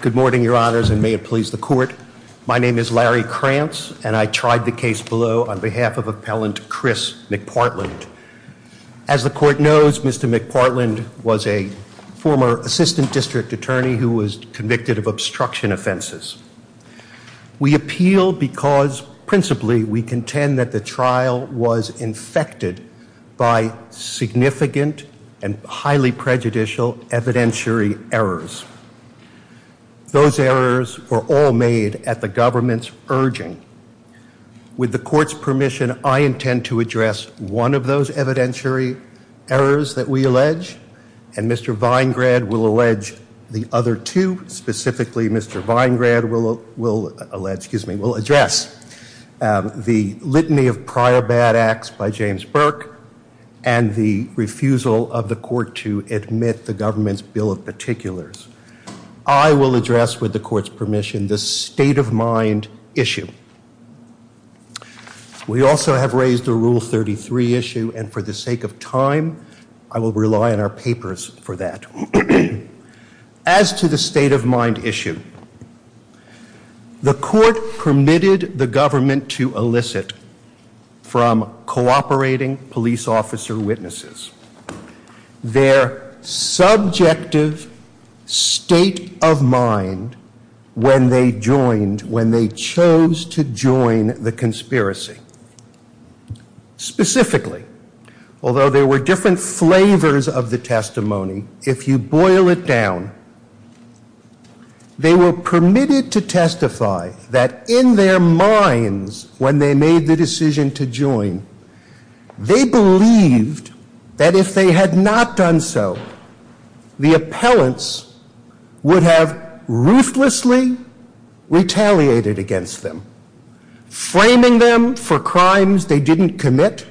Good morning, Your Honors, and may it please the Court. My name is Larry Krantz, and I tried the case below on behalf of Appellant Chris McPartland. As the Court knows, Mr. McPartland was a former Assistant District Attorney who was convicted of obstruction offenses. We appeal because, principally, we contend that the trial was infected by significant and highly prejudicial evidentiary errors. Those errors were all made at the government's urging. With the Court's permission, I intend to address one of those evidentiary errors that we allege, and Mr. Weingrad will allege the other two. Specifically, Mr. Weingrad will allege, excuse me, will address the litany of prior bad acts by James Burke and the refusal of the Court to admit the government's Bill of Particulars. I will address, with the Court's permission, the state-of-mind issue. We also have raised the Rule 33 issue, and for the sake of time, I will rely on our papers for that. As to the state-of-mind issue, the Court permitted the government to elicit from cooperating police officer witnesses their subjective state of mind when they joined, when they chose to join the conspiracy. Specifically, although there were different flavors of the testimony, if you boil it down, they were permitted to testify that in their minds, when they made the decision to join, they believed that if they had not done so, the appellants would have ruthlessly retaliated against them, framing them for crimes they didn't commit,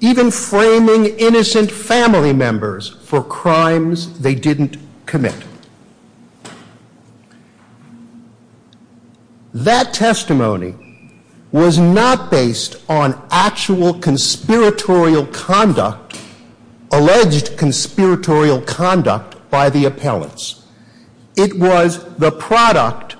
even framing innocent family members for crimes they didn't commit. That testimony was not based on actual conspiratorial conduct, alleged conspiratorial conduct by the appellants. It was the product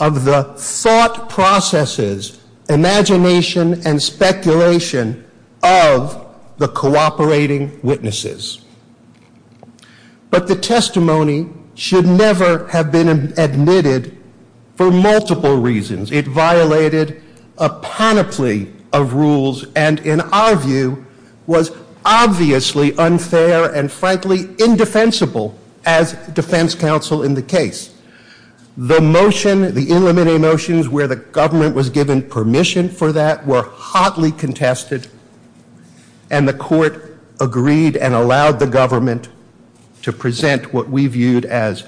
of the thought processes, imagination, and speculation of the cooperating witnesses. But the testimony should never have been admitted for multiple reasons. It violated a panoply of rules, and in our view, was obviously unfair and frankly indefensible as defense counsel in the case. The motion, the in-limited motions where the government was given permission for that, were hotly contested, and the court agreed and allowed the government to present what we viewed as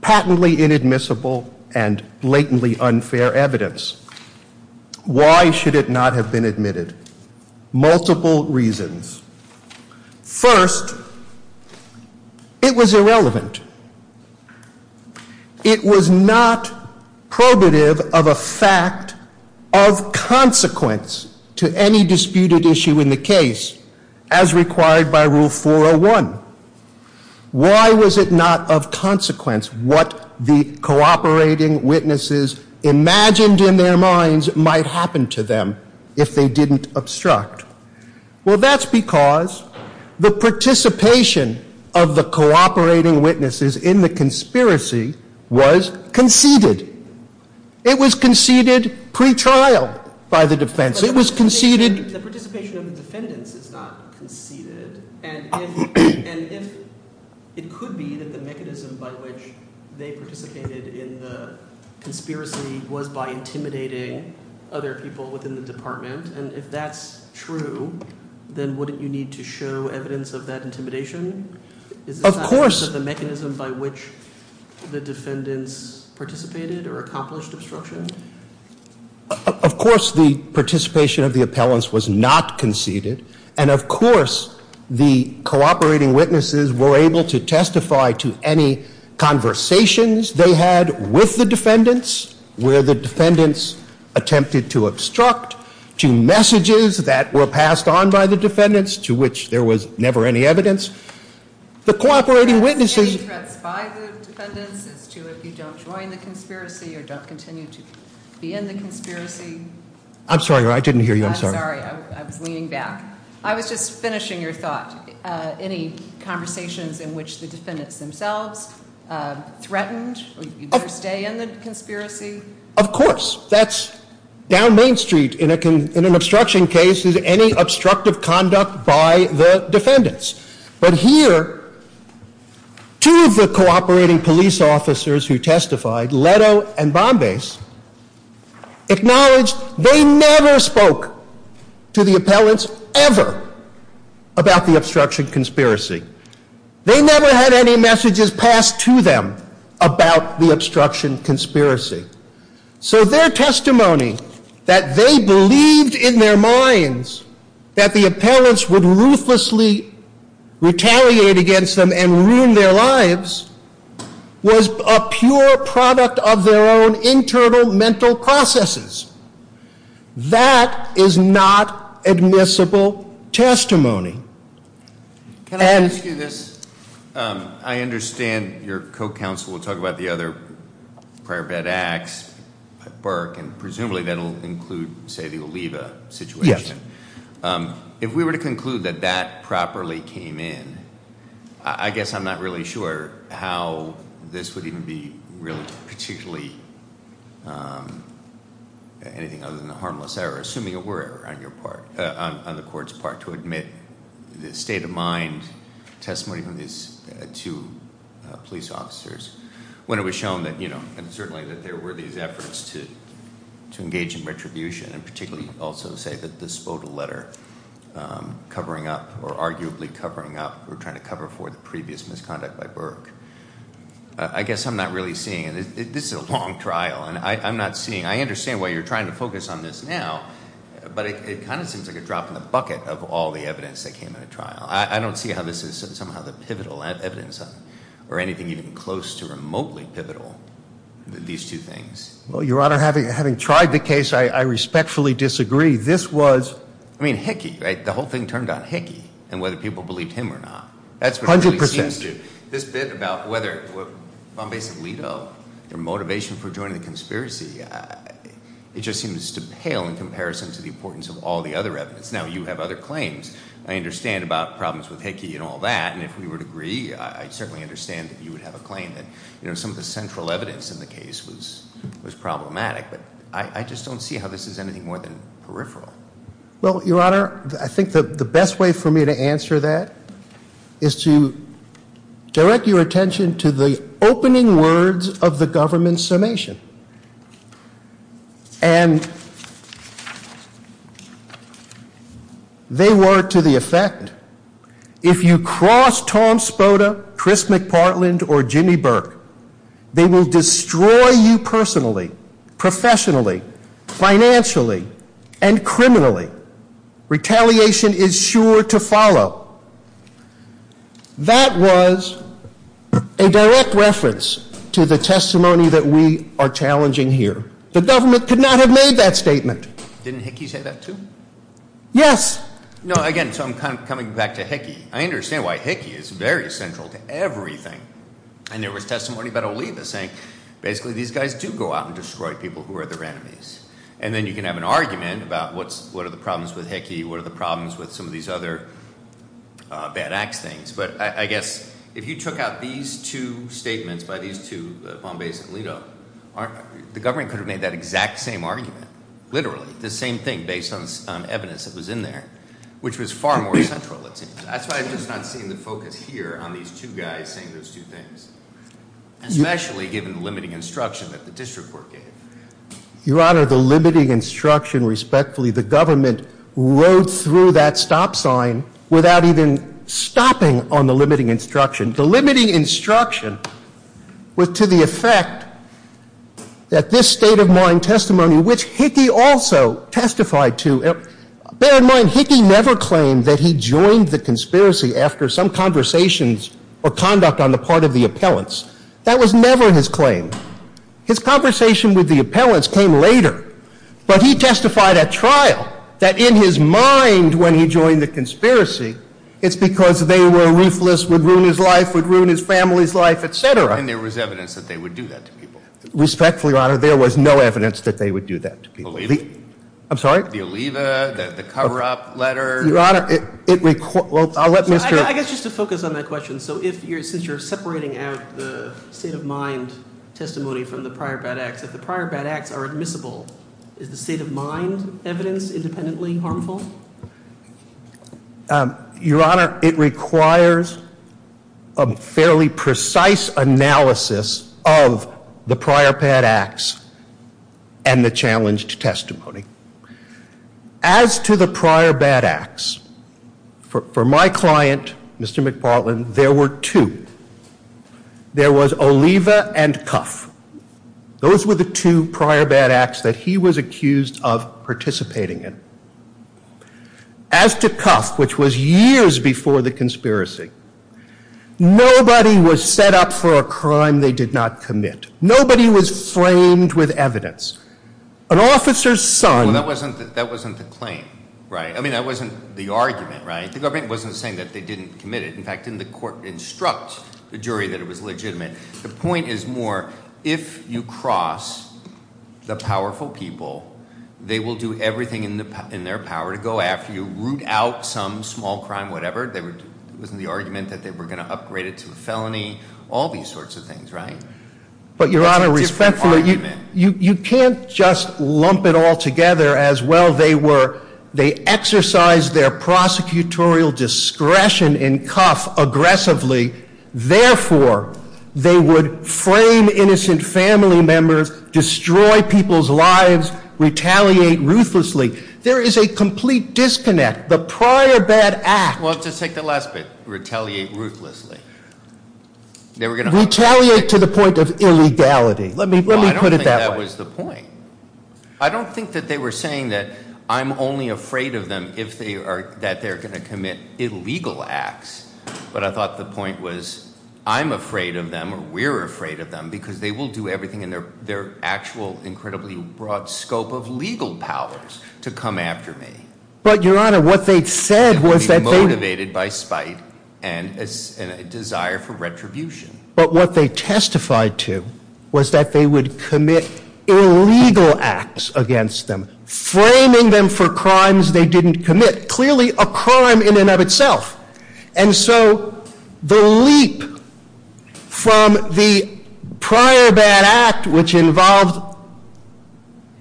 patently inadmissible and blatantly unfair evidence. Why should it not have been admitted? Multiple reasons. First, it was irrelevant. It was not probative of a fact of consequence to any disputed issue in the case, as required by Rule 401. Why was it not of consequence what the cooperating witnesses imagined in their minds might happen to them if they didn't obstruct? Well, that's because the participation of the cooperating witnesses in the conspiracy was conceded. It was conceded pre-trial by the defense. It was conceded... ...then wouldn't you need to show evidence of that intimidation? Of course. Is that not the mechanism by which the defendants participated or accomplished obstruction? Of course the participation of the appellants was not conceded, and of course the cooperating witnesses were able to testify to any conversations they had with the defendants, where the defendants attempted to obstruct, to messages that were passed on by the defendants to which there was never any evidence. The cooperating witnesses... Any threats by the defendants to if you don't join the conspiracy or don't continue to be in the conspiracy? I'm sorry, I didn't hear you, I'm sorry. I'm sorry, I'm leaning back. I was just finishing your thoughts. Any conversations in which the defendants themselves threatened to stay in the conspiracy? Of course. Down Main Street in an obstruction case is any obstructive conduct by the defendants. But here, two of the cooperating police officers who testified, Leto and Bombay, acknowledged they never spoke to the appellants ever about the obstruction conspiracy. They never had any messages passed to them about the obstruction conspiracy. So their testimony, that they believed in their minds that the appellants would ruthlessly retaliate against them and ruin their lives, was a pure product of their own internal mental processes. That is not admissible testimony. Can I ask you this? I understand your co-counsel will talk about the other prior bad acts at Burke, and presumably that will include the Oliva situation. Yes. If we were to conclude that that properly came in, I guess I'm not really sure how this would even be really particularly anything other than a harmless error, assuming it were on the court's part, to admit the state of mind testimony from these two police officers, when it was shown that, you know, and certainly that there were these efforts to engage in retribution, and particularly also to say that this photo letter covering up, or arguably covering up, or trying to cover for the previous misconduct by Burke. I guess I'm not really seeing it. This is a long trial, and I'm not seeing, I understand why you're trying to focus on this now, but it kind of seems like a drop in the bucket of all the evidence that came in the trial. I don't see how this is somehow the pivotal evidence, or anything even close to remotely pivotal, these two things. Well, Your Honor, having tried the case, I respectfully disagree. This was… I mean, Hickey, right? The whole thing turned on Hickey, and whether people believed him or not. That's 100% true. Now, you have other claims. I understand about problems with Hickey and all that, and if we were to agree, I certainly understand that you would have a claim that, you know, some of the central evidence in the case was problematic, but I just don't see how this is anything more than peripheral. Well, Your Honor, I think the best way for me to answer that is to direct your attention to the opening words of the government's summation. And they were to the effect, if you cross Tom Spoda, Chris McPartland, or Jimmy Burke, they will destroy you personally, professionally, financially, and criminally. That was a direct reference to the testimony that we are challenging here. The government could not have made that statement. Didn't Hickey say that too? Yes. No, again, so I'm coming back to Hickey. I understand why Hickey is very central to everything. And there was testimony about Oliva saying, basically, these guys do go out and destroy people who are their enemies. And then you can have an argument about what are the problems with Hickey, what are the problems with some of these other bad act things. But I guess if you took out these two statements by these two, Bombay's and Oliva, the government could have made that exact same argument. Literally, the same thing based on evidence that was in there, which was far more central. That's why I'm just not seeing the focus here on these two guys saying those two things. Especially given the limiting instruction that the district court gave. Your Honor, the limiting instruction, respectfully, the government rode through that stop sign without even stopping on the limiting instruction. The limiting instruction was to the effect that this state of mind testimony, which Hickey also testified to, bear in mind Hickey never claimed that he joined the conspiracy after some conversations or conduct on the part of the appellants. That was never his claim. His conversation with the appellants came later. But he testified at trial that in his mind when he joined the conspiracy, it's because they were ruthless, would ruin his life, would ruin his family's life, etc. And there was evidence that they would do that to people. Respectfully, Your Honor, there was no evidence that they would do that to people. Oliva. I'm sorry? The Oliva, the cover-up letter. Your Honor, it, well, I'll let Mr. I guess just to focus on that question. So since you're separating out the state of mind testimony from the prior bad acts, if the prior bad acts are admissible, is the state of mind evidence independently harmful? Your Honor, it requires a fairly precise analysis of the prior bad acts and the challenged testimony. As to the prior bad acts, for my client, Mr. McFarland, there were two. There was Oliva and Cuff. Those were the two prior bad acts that he was accused of participating in. As to Cuff, which was years before the conspiracy, nobody was set up for a crime they did not commit. Nobody was framed with evidence. An officer's son. Well, that wasn't the claim, right? I mean, that wasn't the argument, right? The argument wasn't saying that they didn't commit it. In fact, the court instructs the jury that it was legitimate. The point is more, if you cross the powerful people, they will do everything in their power to go after you, root out some small crime, whatever. The argument that they were going to upgrade it to a felony, all these sorts of things, right? But, Your Honor, respectfully, you can't just lump it all together as well. They exercised their prosecutorial discretion in Cuff aggressively. Therefore, they would frame innocent family members, destroy people's lives, retaliate ruthlessly. There is a complete disconnect. The prior bad act. Well, let's just take the last bit. Retaliate ruthlessly. Retaliate to the point of illegality. I don't think that was the point. I'm saying that I'm only afraid of them if they are, that they're going to commit illegal acts. But I thought the point was, I'm afraid of them, or we're afraid of them, because they will do everything in their actual incredibly broad scope of legal powers to come after me. But, Your Honor, what they said was that they... To be motivated by spite and a desire for retribution. But what they testified to was that they would commit illegal acts against them. Framing them for crimes they didn't commit. Clearly, a crime in and of itself. And so, the leap from the prior bad act, which involved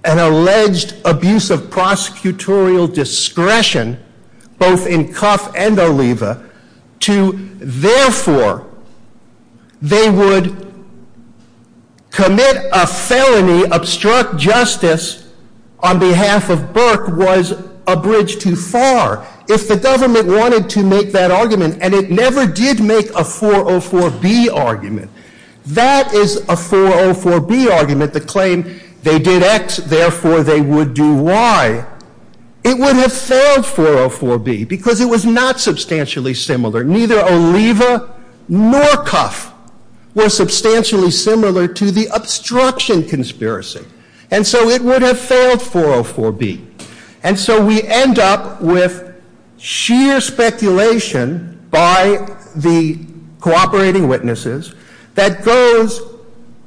an alleged abuse of prosecutorial discretion, both in Cuff and Oliva, to, therefore, they would commit a felony, obstruct justice on behalf of Burke, was a bridge too far. If the government wanted to make that argument, and it never did make a 404B argument, that is a 404B argument to claim they did X, therefore they would do Y. It would have failed 404B, because it was not substantially similar. Neither Oliva nor Cuff were substantially similar to the obstruction conspiracy. And so it would have failed 404B. And so we end up with sheer speculation by the cooperating witnesses that goes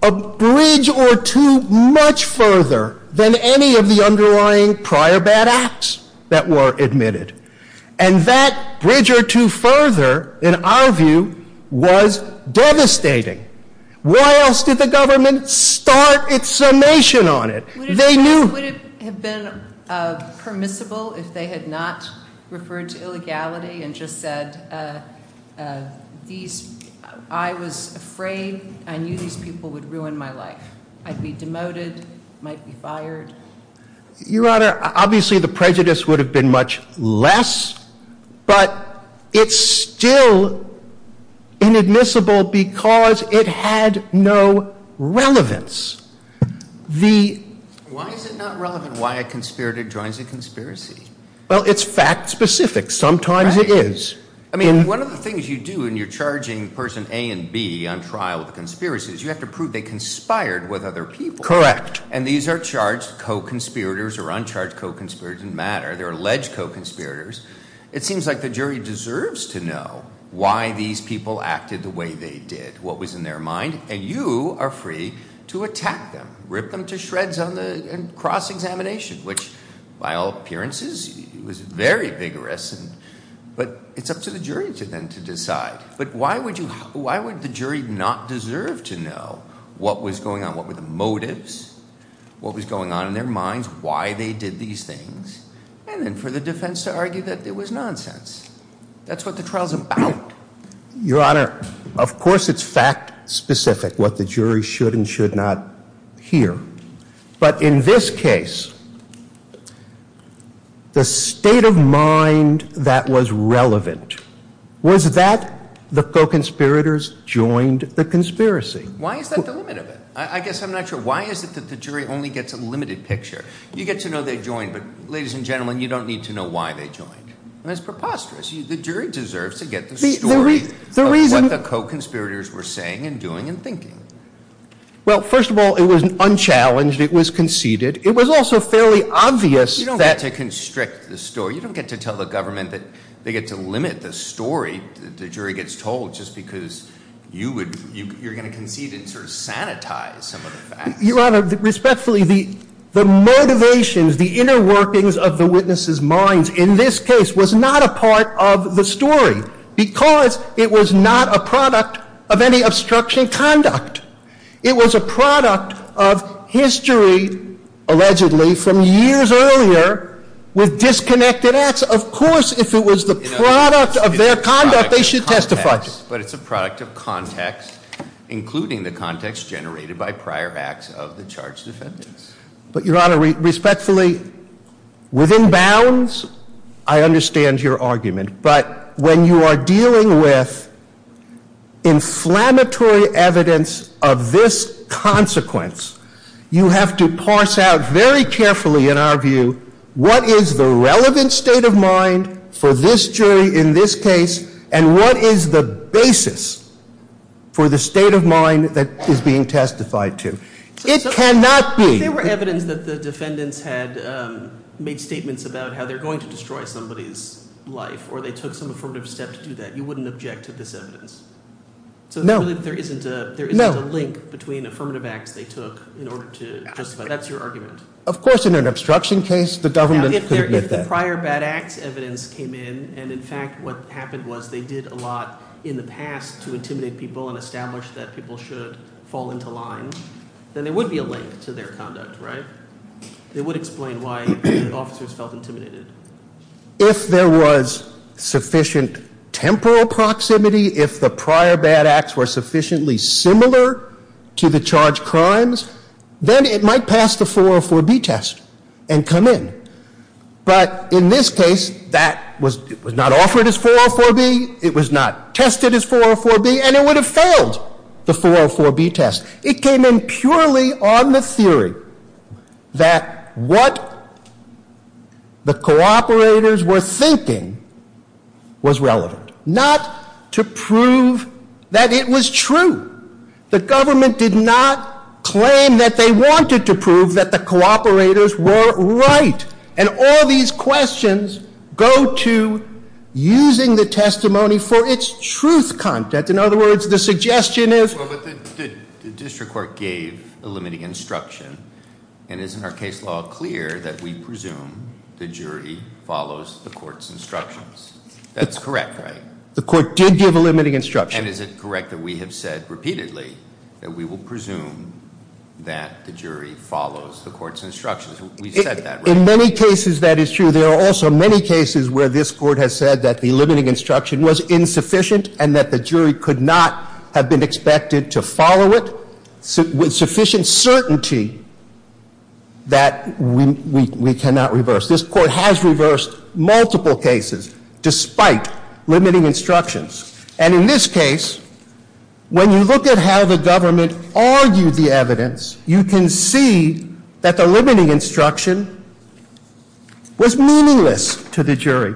a bridge or two much further than any of the underlying prior bad acts that were admitted. And that bridge or two further, in our view, was devastating. Why else did the government start its summation on it? Would it have been permissible if they had not referred to illegality and just said, I was afraid, I knew these people would ruin my life. I'd be demoted, might be fired. Your Honor, obviously the prejudice would have been much less, but it's still inadmissible because it had no relevance. Why is it not relevant why a conspirator joins a conspiracy? Well, it's fact-specific. Sometimes it is. I mean, one of the things you do when you're charging person A and B on trial with a conspiracy is you have to prove they conspired with other people. Correct. And these are charged co-conspirators or uncharged co-conspirators that matter. They're alleged co-conspirators. It seems like the jury deserves to know why these people acted the way they did, what was in their mind, and you are free to attack them, rip them to shreds on the cross-examination, which, by all appearances, was very vigorous. But it's up to the jury then to decide. But why would the jury not deserve to know what was going on, what were the motives, what was going on in their minds, why they did these things, and then for the defense to argue that it was nonsense. That's what the trial's about. Your Honor, of course it's fact-specific what the jury should and should not hear. But in this case, the state of mind that was relevant was that the co-conspirators joined the conspiracy. Why is that the limit of it? I guess I'm not sure. Why is it that the jury only gets a limited picture? You get to know they joined, but, ladies and gentlemen, you don't need to know why they joined. It's preposterous. The jury deserves to get the story of what the co-conspirators were saying and doing and thinking. Well, first of all, it was unchallenged. It was conceded. It was also fairly obvious that— You don't get to constrict the story. You don't get to tell the government that they get to limit the story that the jury gets told just because you're going to concede it's sanitized. was not a part of the story because it was not a product of any obstruction of conduct. It was a product of history, allegedly, from years earlier with disconnected acts. Of course, if it was the product of their conduct, they should testify. But it's a product of context, including the context generated by prior acts of the charged defendants. But, Your Honor, respectfully, within bounds, I understand your argument. But when you are dealing with inflammatory evidence of this consequence, you have to parse out very carefully, in our view, what is the relevant state of mind for this jury in this case, and what is the basis for the state of mind that is being testified to. If there were evidence that the defendants had made statements about how they're going to destroy somebody's life, or they took some affirmative steps to do that, you wouldn't object to this evidence? No. So there isn't a link between affirmative acts they took in order to testify? That's your argument? Of course, in an obstruction case, the government couldn't get that. If prior bad act evidence came in, and in fact what happened was they did a lot in the past to intimidate people and establish that people should fall into lines, then there would be a link to their conduct, right? It would explain why officers felt intimidated. If there was sufficient temporal proximity, if the prior bad acts were sufficiently similar to the charged crimes, then it might pass the 404B test and come in. But in this case, that was not offered as 404B, it was not tested as 404B, and it would have failed the 404B test. It came in purely on the theory that what the cooperators were thinking was relevant, not to prove that it was true. The government did not claim that they wanted to prove that the cooperators were right, and all these questions go to using the testimony for its truth content. In other words, the suggestion is... But the district court gave a limiting instruction, and isn't our case law clear that we presume the jury follows the court's instructions? That's correct, right? The court did give a limiting instruction. And is it correct that we have said repeatedly that we will presume that the jury follows the court's instructions? We said that, right? In many cases that is true. There are also many cases where this court has said that the limiting instruction was insufficient and that the jury could not have been expected to follow it with sufficient certainty that we cannot reverse. This court has reversed multiple cases despite limiting instructions. And in this case, when you look at how the government argued the evidence, you can see that the limiting instruction was meaningless to the jury.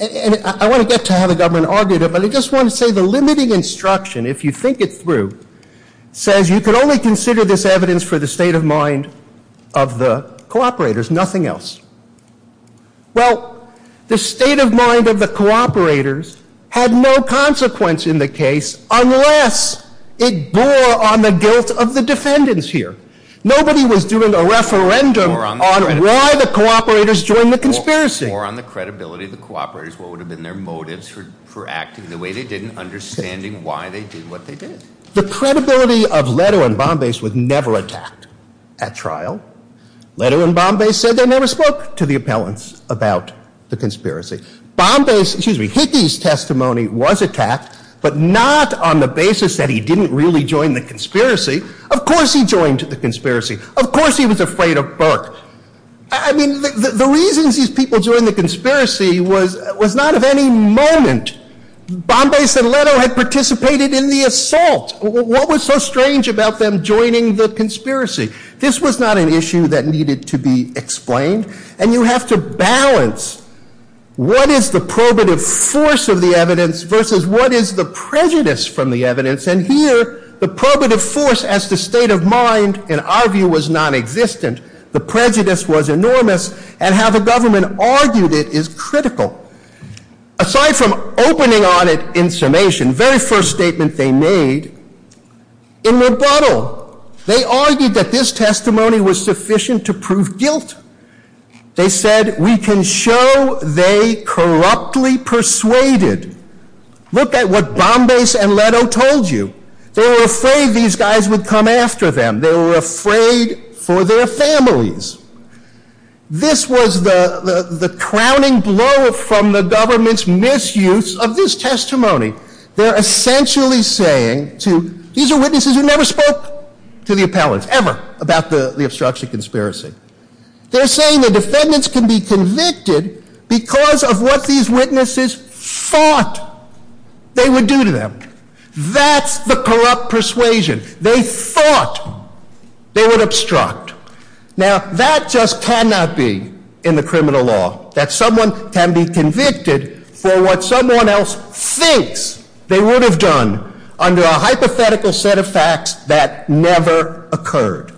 And I want to get to how the government argued it, but I just want to say the limiting instruction, if you think it through, says you can only consider this evidence for the state of mind of the cooperators, nothing else. Well, the state of mind of the cooperators had no consequence in the case unless it bore on the guilt of the defendants here. Nobody was doing a referendum on why the cooperators joined the conspiracy. Bore on the credibility of the cooperators, what would have been their motives for acting the way they did, and understanding why they did what they did. The credibility of Leto and Bombay was never attacked at trial. Leto and Bombay said they never spoke to the appellants about the conspiracy. Bombay's, excuse me, Hickey's testimony was attacked, but not on the basis that he didn't really join the conspiracy. Of course he joined the conspiracy. Of course he was afraid of Burke. I mean, the reason these people joined the conspiracy was not of any moment. Bombay said Leto had participated in the assault. What was so strange about them joining the conspiracy? This was not an issue that needed to be explained, and you have to balance what is the probative force of the evidence versus what is the prejudice from the evidence, and here the probative force as the state of mind, in our view, was nonexistent. The prejudice was enormous, and how the government argued it is critical. Aside from opening on it in summation, the very first statement they made, in rebuttal, they argued that this testimony was sufficient to prove guilt. They said, we can show they corruptly persuaded. Look at what Bombay and Leto told you. They were afraid these guys would come after them. They were afraid for their families. This was the crowning blow from the government's misuse of this testimony. They're essentially saying, these are witnesses who never spoke to the appellant, ever, about the obstruction conspiracy. They're saying the defendants can be convicted because of what these witnesses thought they would do to them. That's the corrupt persuasion. They thought they would obstruct. Now, that just cannot be in the criminal law, that someone can be convicted for what someone else thinks they would have done under a hypothetical set of facts that never occurred.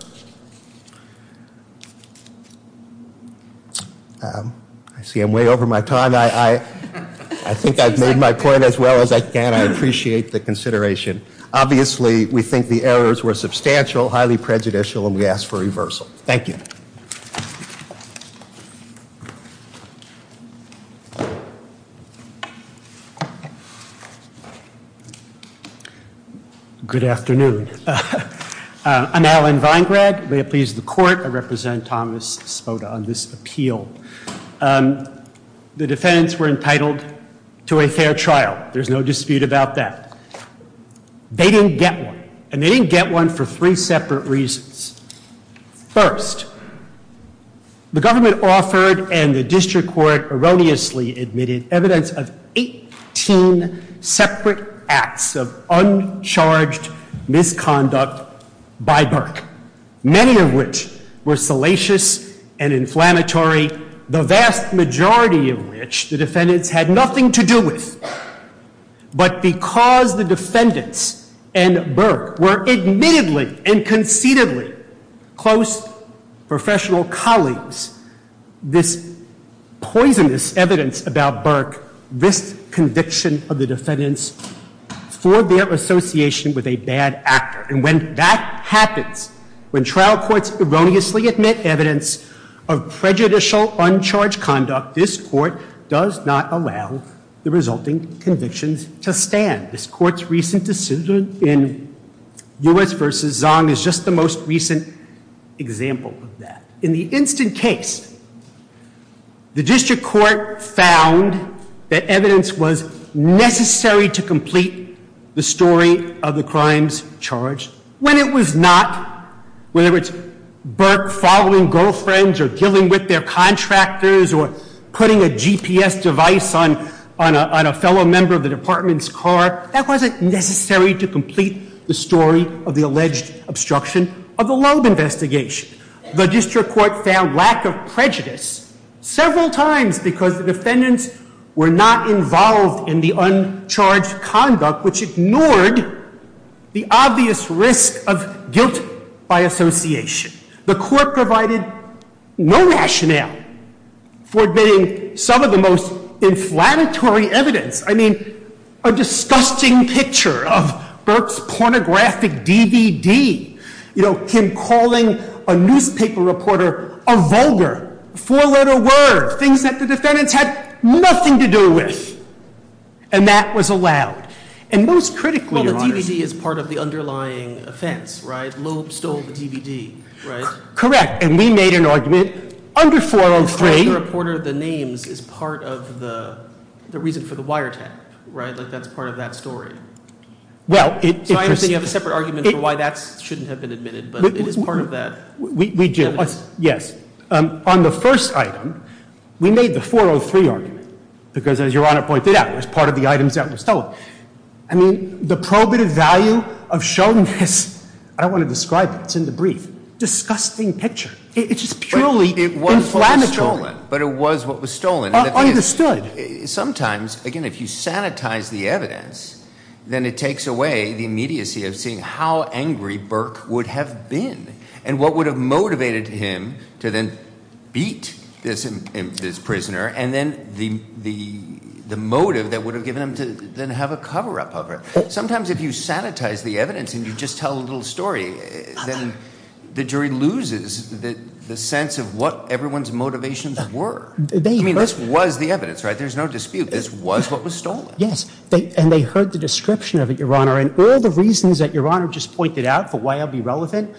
I see I'm way over my time. I think I've made my point as well as I can. I appreciate the consideration. Obviously, we think the errors were substantial, highly prejudicial, and we ask for reversal. Thank you. Thank you. Good afternoon. I'm Alan Weingrad. I represent Thomas Svota on this appeal. The defendants were entitled to a fair trial. There's no dispute about that. They didn't get one, and they didn't get one for three separate reasons. First, the government offered and the district court erroneously admitted evidence of 18 separate acts of uncharged misconduct by Burke, many of which were salacious and inflammatory, the vast majority of which the defendants had nothing to do with. But because the defendants and Burke were admittedly and conceitedly close professional colleagues, this poisonous evidence about Burke, this conviction of the defendants, forbear association with a bad actor. And when that happens, when trial courts erroneously admit evidence of prejudicial uncharged conduct, this court does not allow the resulting convictions to stand. This court's recent decision in Lewis v. Zong is just the most recent example of that. In the instant case, the district court found that evidence was necessary to complete the story of the crimes charged when it was not, whether it's Burke following girlfriends or dealing with their contractors or putting a GPS device on a fellow member of the department's car, that wasn't necessary to complete the story of the alleged obstruction of the Loeb investigation. The district court found lack of prejudice several times because the defendants were not involved in the uncharged conduct, which ignored the obvious risk of guilt by association. The court provided no rationale for admitting some of the most inflammatory evidence. I mean, a disgusting picture of Burke's pornographic DVD, him calling a newspaper reporter a vulgar, four-letter word, things that the defendants had nothing to do with. And that was allowed. And most critically... Well, the DVD is part of the underlying offense, right? Correct. And we made an argument under 403... The reporter, the names, is part of the reason for the wiretap, right? Like, that's part of that story. Well, it... So obviously you have a separate argument for why that shouldn't have been admitted, but it is part of that. Yes. On the first item, we made the 403 argument because, as Your Honor pointed out, it's part of the items that were sold. I mean, the probative value of showing this... I don't want to describe it. It's in the brief. Disgusting picture. It's purely inflammatory. But it was what was stolen. Understood. Sometimes, again, if you sanitize the evidence, then it takes away the immediacy of seeing how angry Burke would have been and what would have motivated him to then beat this prisoner and then the motive that would have given him to then have a cover-up of it. Sometimes if you sanitize the evidence and you just tell a little story, then the jury loses the sense of what everyone's motivations were. I mean, this was the evidence, right? There's no dispute. This was what was stolen. Yes, and they heard the description of it, Your Honor, and all the reasons that Your Honor just pointed out for why it would be relevant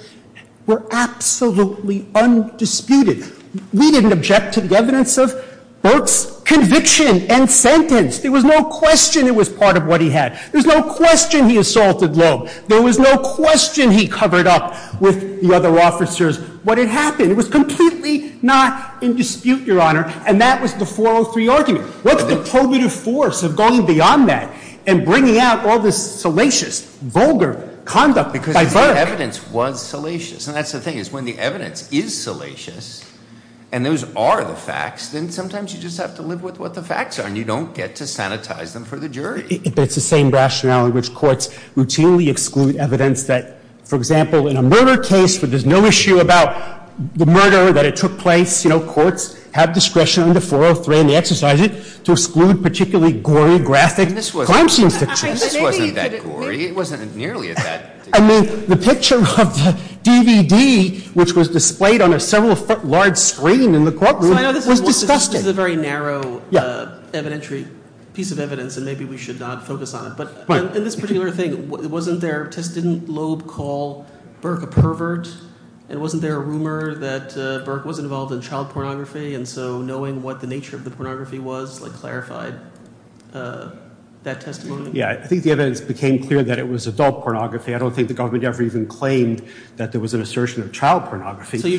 were absolutely undisputed. We didn't object to the evidence of Burke's conviction and sentence. There was no question it was part of what he had. There was no question he assaulted Loeb. There was no question he covered up with the other officers what had happened. It was completely not in dispute, Your Honor, and that was the 403 argument. What's the probative force of going beyond that and bringing out all this salacious, vulgar conduct by Burke? The evidence was salacious, and that's the thing. When the evidence is salacious and those are the facts, then sometimes you just have to live with what the facts are, and you don't get to sanitize them for the jury. That's the same rationale in which courts routinely exclude evidence that, for example, in a murder case where there's no issue about the murder, that it took place, you know, courts have discretion under 403, and they exercise it to exclude particularly gory, graphic crime scenes. This wasn't that gory. It wasn't nearly that gory. I mean, the picture of the DVD, which was displayed on a several-foot-large screen in the courtroom, was disgusted. This is a very narrow piece of evidence, and maybe we should not focus on it, but in this particular thing, wasn't there a testident lobe called Burke a pervert, and wasn't there a rumor that Burke was involved in child pornography, and so knowing what the nature of the pornography was clarified that testimony? Yeah, I think the evidence became clear that it was adult pornography. I don't think the government ever even claimed that there was an assertion of child pornography. I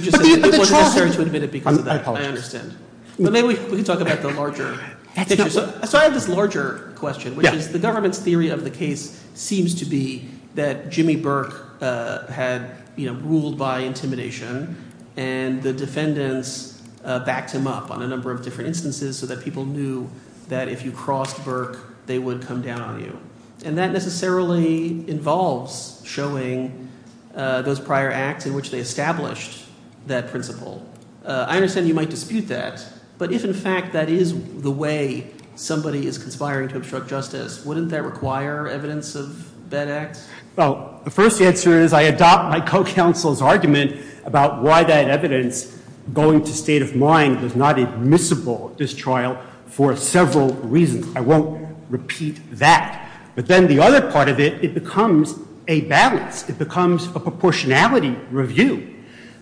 understand. But maybe we can talk about the larger picture. So I have this larger question, which is the government's theory of the case seems to be that Jimmy Burke had, you know, ruled by intimidation, and the defendants backed him up on a number of different instances so that people knew that if you crossed Burke, they would come down on you, and that necessarily involves showing those prior acts in which they established that principle. I understand you might dispute that, but if in fact that is the way somebody is conspiring to obstruct justice, wouldn't that require evidence of that act? Well, the first answer is I adopt my co-counsel's argument about why that evidence, going to state of mind, was not admissible at this trial for several reasons. I won't repeat that. But then the other part of it, it becomes a balance. It becomes a proportionality review.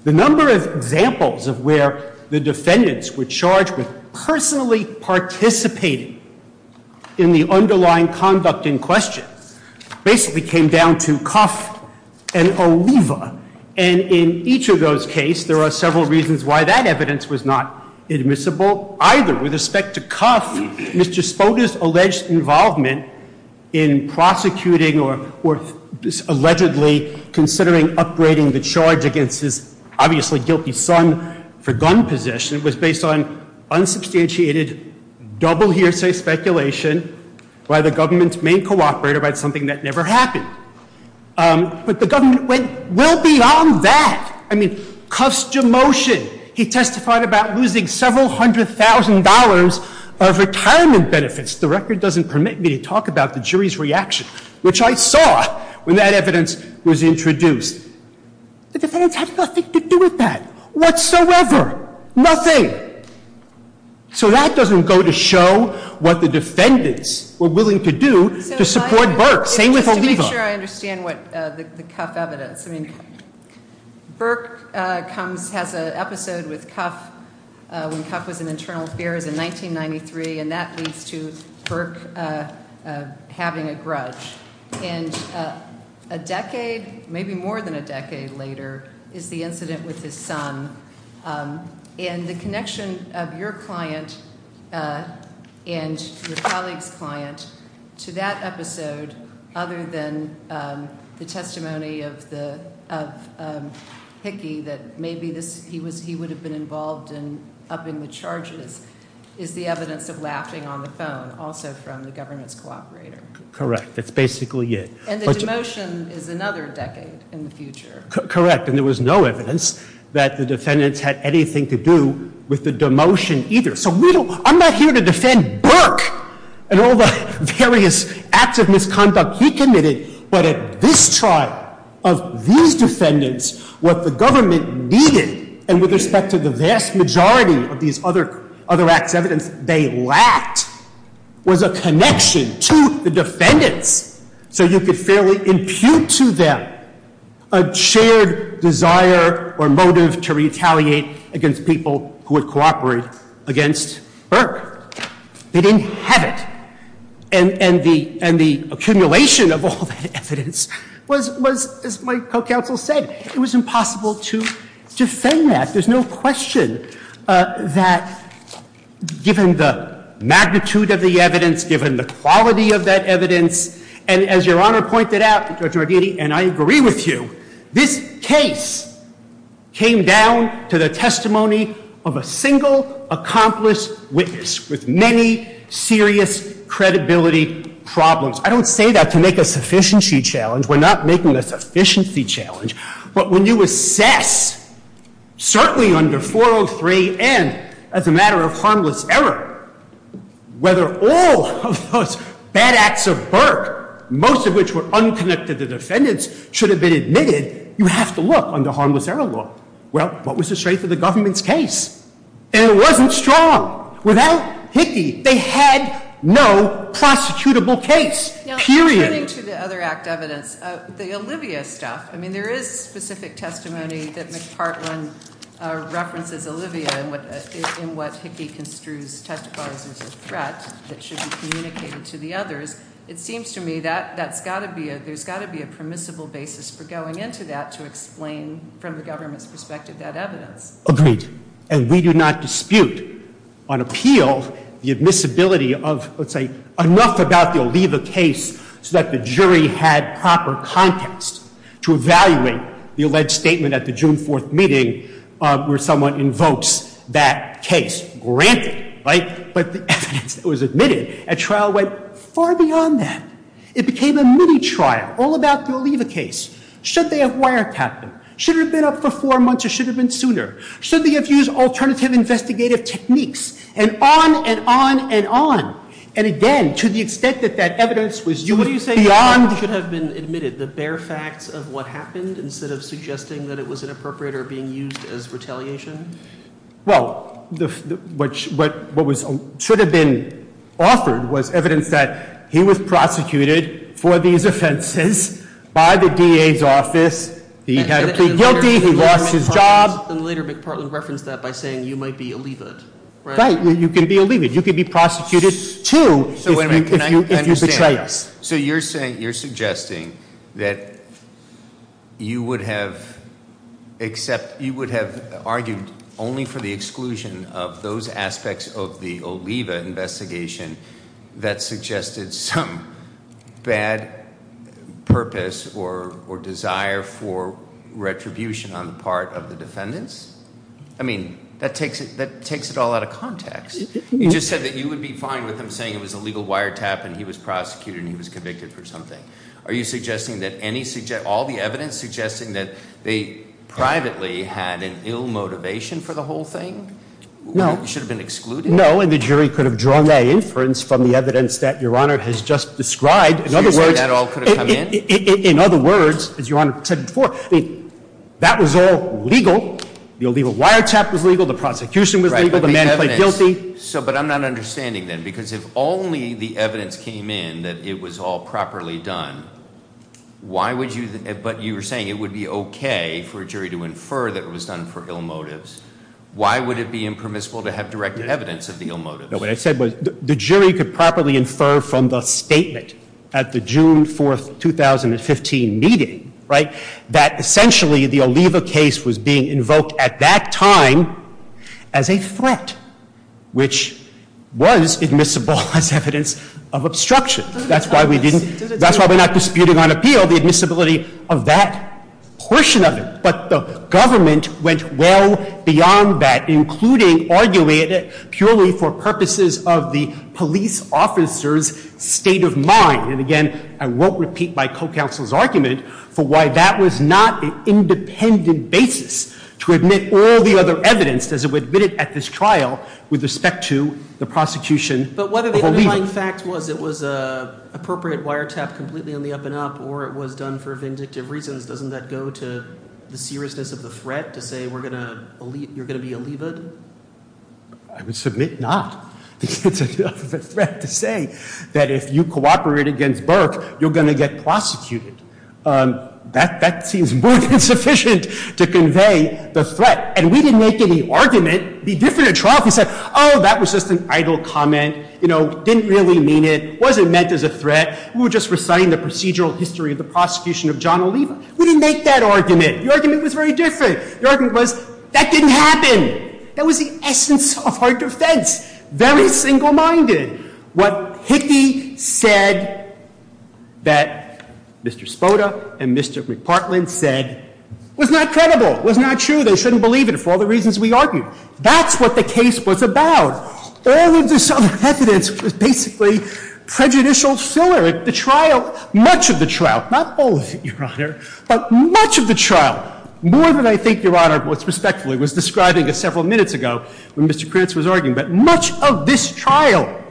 The number of examples of where the defendants were charged with personally participating in the underlying conduct in question basically came down to Cuff and Oliva. And in each of those cases, there are several reasons why that evidence was not admissible, either with respect to Cuff, Mr. Spoda's alleged involvement in prosecuting or allegedly considering upgrading the charge against his obviously guilty son for gun possession was based on unsubstantiated, double hearsay speculation by the government's main cooperator about something that never happened. But the government went well beyond that. I mean, Cuff's demotion. He testified about losing several hundred thousand dollars of retirement benefits. The record doesn't permit me to talk about the jury's reaction, which I saw when that evidence was introduced. The defendants had nothing to do with that whatsoever. Nothing. So that doesn't go to show what the defendants were willing to do to support Burke, same with Oliva. Let me make sure I understand the Cuff evidence. Burke has an episode with Cuff when Cuff was in internal affairs in 1993, and that leads to Burke having a grudge. And a decade, maybe more than a decade later, is the incident with his son. And the connection of your client and your colleague's client to that episode, other than the testimony of Hickey that maybe he would have been involved in upping the charges, is the evidence of laughing on the phone, also from the government's cooperator. Correct. That's basically it. And the demotion is another decade in the future. Correct. And there was no evidence that the defendants had anything to do with the demotion either. So I'm not here to defend Burke and all the various acts of misconduct he committed, but at this trial, of these defendants, what the government needed, and with respect to the vast majority of these other acts of evidence they lacked, was a connection to the defendants so you could fairly impute to them a shared desire or motive to retaliate against people who were cooperating against Burke. They didn't have it. And the accumulation of all that evidence was, as my co-counsel said, it was impossible to defend that. There's no question that, given the magnitude of the evidence, given the quality of that evidence, and as your Honor pointed out, and I agree with you, this case came down to the testimony of a single accomplice witness with many serious credibility problems. I don't say that to make a sufficiency challenge. We're not making a sufficiency challenge. But when you assess, certainly under 403, and as a matter of harmless error, whether all of those bad acts of Burke, most of which were unconnected to the defendants, should have been admitted, you have to look under harmless error law. Well, what was the strength of the government's case? And it wasn't strong. Without Hickey, they had no prosecutable case. Period. Now, coming to the other act evidence, the Olivia stuff, I mean, there is specific testimony that McPartland references Olivia in what Hickey construes testifies as a threat that should be communicated to the others. It seems to me that there's got to be a permissible basis for going into that to explain, from the government's perspective, that evidence. Agreed. And we do not dispute, on appeal, the admissibility of, let's say, enough about the Olivia case so that the jury had proper context to evaluate the alleged statement at the June 4th meeting where someone invokes that case. Granted, right? But it was admitted. A trial went far beyond that. It became a mini-trial, all about the Olivia case. Should they have wiretapped it? Should it have been up for four months or should it have been sooner? Should they have used alternative investigative techniques? And on and on and on. And again, to the extent that that evidence was used beyond... What do you say should have been admitted? The bare facts of what happened instead of suggesting that it was inappropriate or being used as retaliation? Well, what should have been authored was evidence that he was prosecuted for these offenses by the DA's office. He had to plead guilty. He lost his job. And later, McPartland referenced that by saying you might be Olivia. Right. Well, you can be Olivia. You can be prosecuted, too, if you're the case. So you're suggesting that you would have argued only for the exclusion of those aspects of the Olivia investigation that suggested some bad purpose or desire for retribution on the part of the defendants? I mean, that takes it all out of context. You just said that you would be fine with him saying it was a legal wiretap and he was prosecuted and he was convicted for something. Are you suggesting that any... All the evidence suggesting that they privately had an ill motivation for the whole thing? Well, it should have been excluded. No, and the jury could have drawn that inference from the evidence that Your Honor has just described. In other words... You think that all could have come in? In other words, as Your Honor said before, that was all legal. The wiretap was legal. The prosecution was legal. The man was guilty. But I'm not understanding then because if only the evidence came in that it was all properly done, why would you... But you were saying it would be okay for a jury to infer that it was done for ill motives. Why would it be impermissible to have direct evidence of the ill motives? No, what I said was the jury could properly infer from the statement at the June 4, 2015 meeting, right, that essentially the Oliva case was being invoked at that time as a threat which was admissible as evidence of obstruction. That's why we didn't... That's why we're not disputing on appeal the admissibility of that portion of it. But the government went well beyond that including arguing that solely for purposes of the police officer's state of mind. And again, I won't repeat my co-counsel's argument for why that was not an independent basis to admit all the other evidence as it was admitted at this trial with respect to the prosecution of Oliva. But what if the underlying fact was it was an appropriate wiretap completely on the up and up or it was done for vindictive reasons? Doesn't that go to the seriousness of the threat that they were going to... You were going to be Oliva'd? I would submit not. It's a threat to say that if you cooperate against Burke you're going to get prosecuted. That seems more than sufficient to convey the threat. And we didn't make any argument to be different at trial if we said, oh, that was just an idle comment. You know, didn't really mean it. Wasn't meant as a threat. We were just reciting the procedural history of the prosecution of John Oliva. We didn't make that argument. The argument was very different. The argument was, that didn't happen. That was the essence of our defense. Very single-minded. What Hickey said that Mr. Spoda and Mr. McPartland said was not credible, was not true. They shouldn't believe it for all the reasons we argued. That's what the case was about. All of this unresonance was basically prejudicial filler. At the trial, much of the trial, not all of it, Your Honor, but much of the trial, more than I think, Your Honor, was describing this several minutes ago when Mr. Prince was arguing, but much of this trial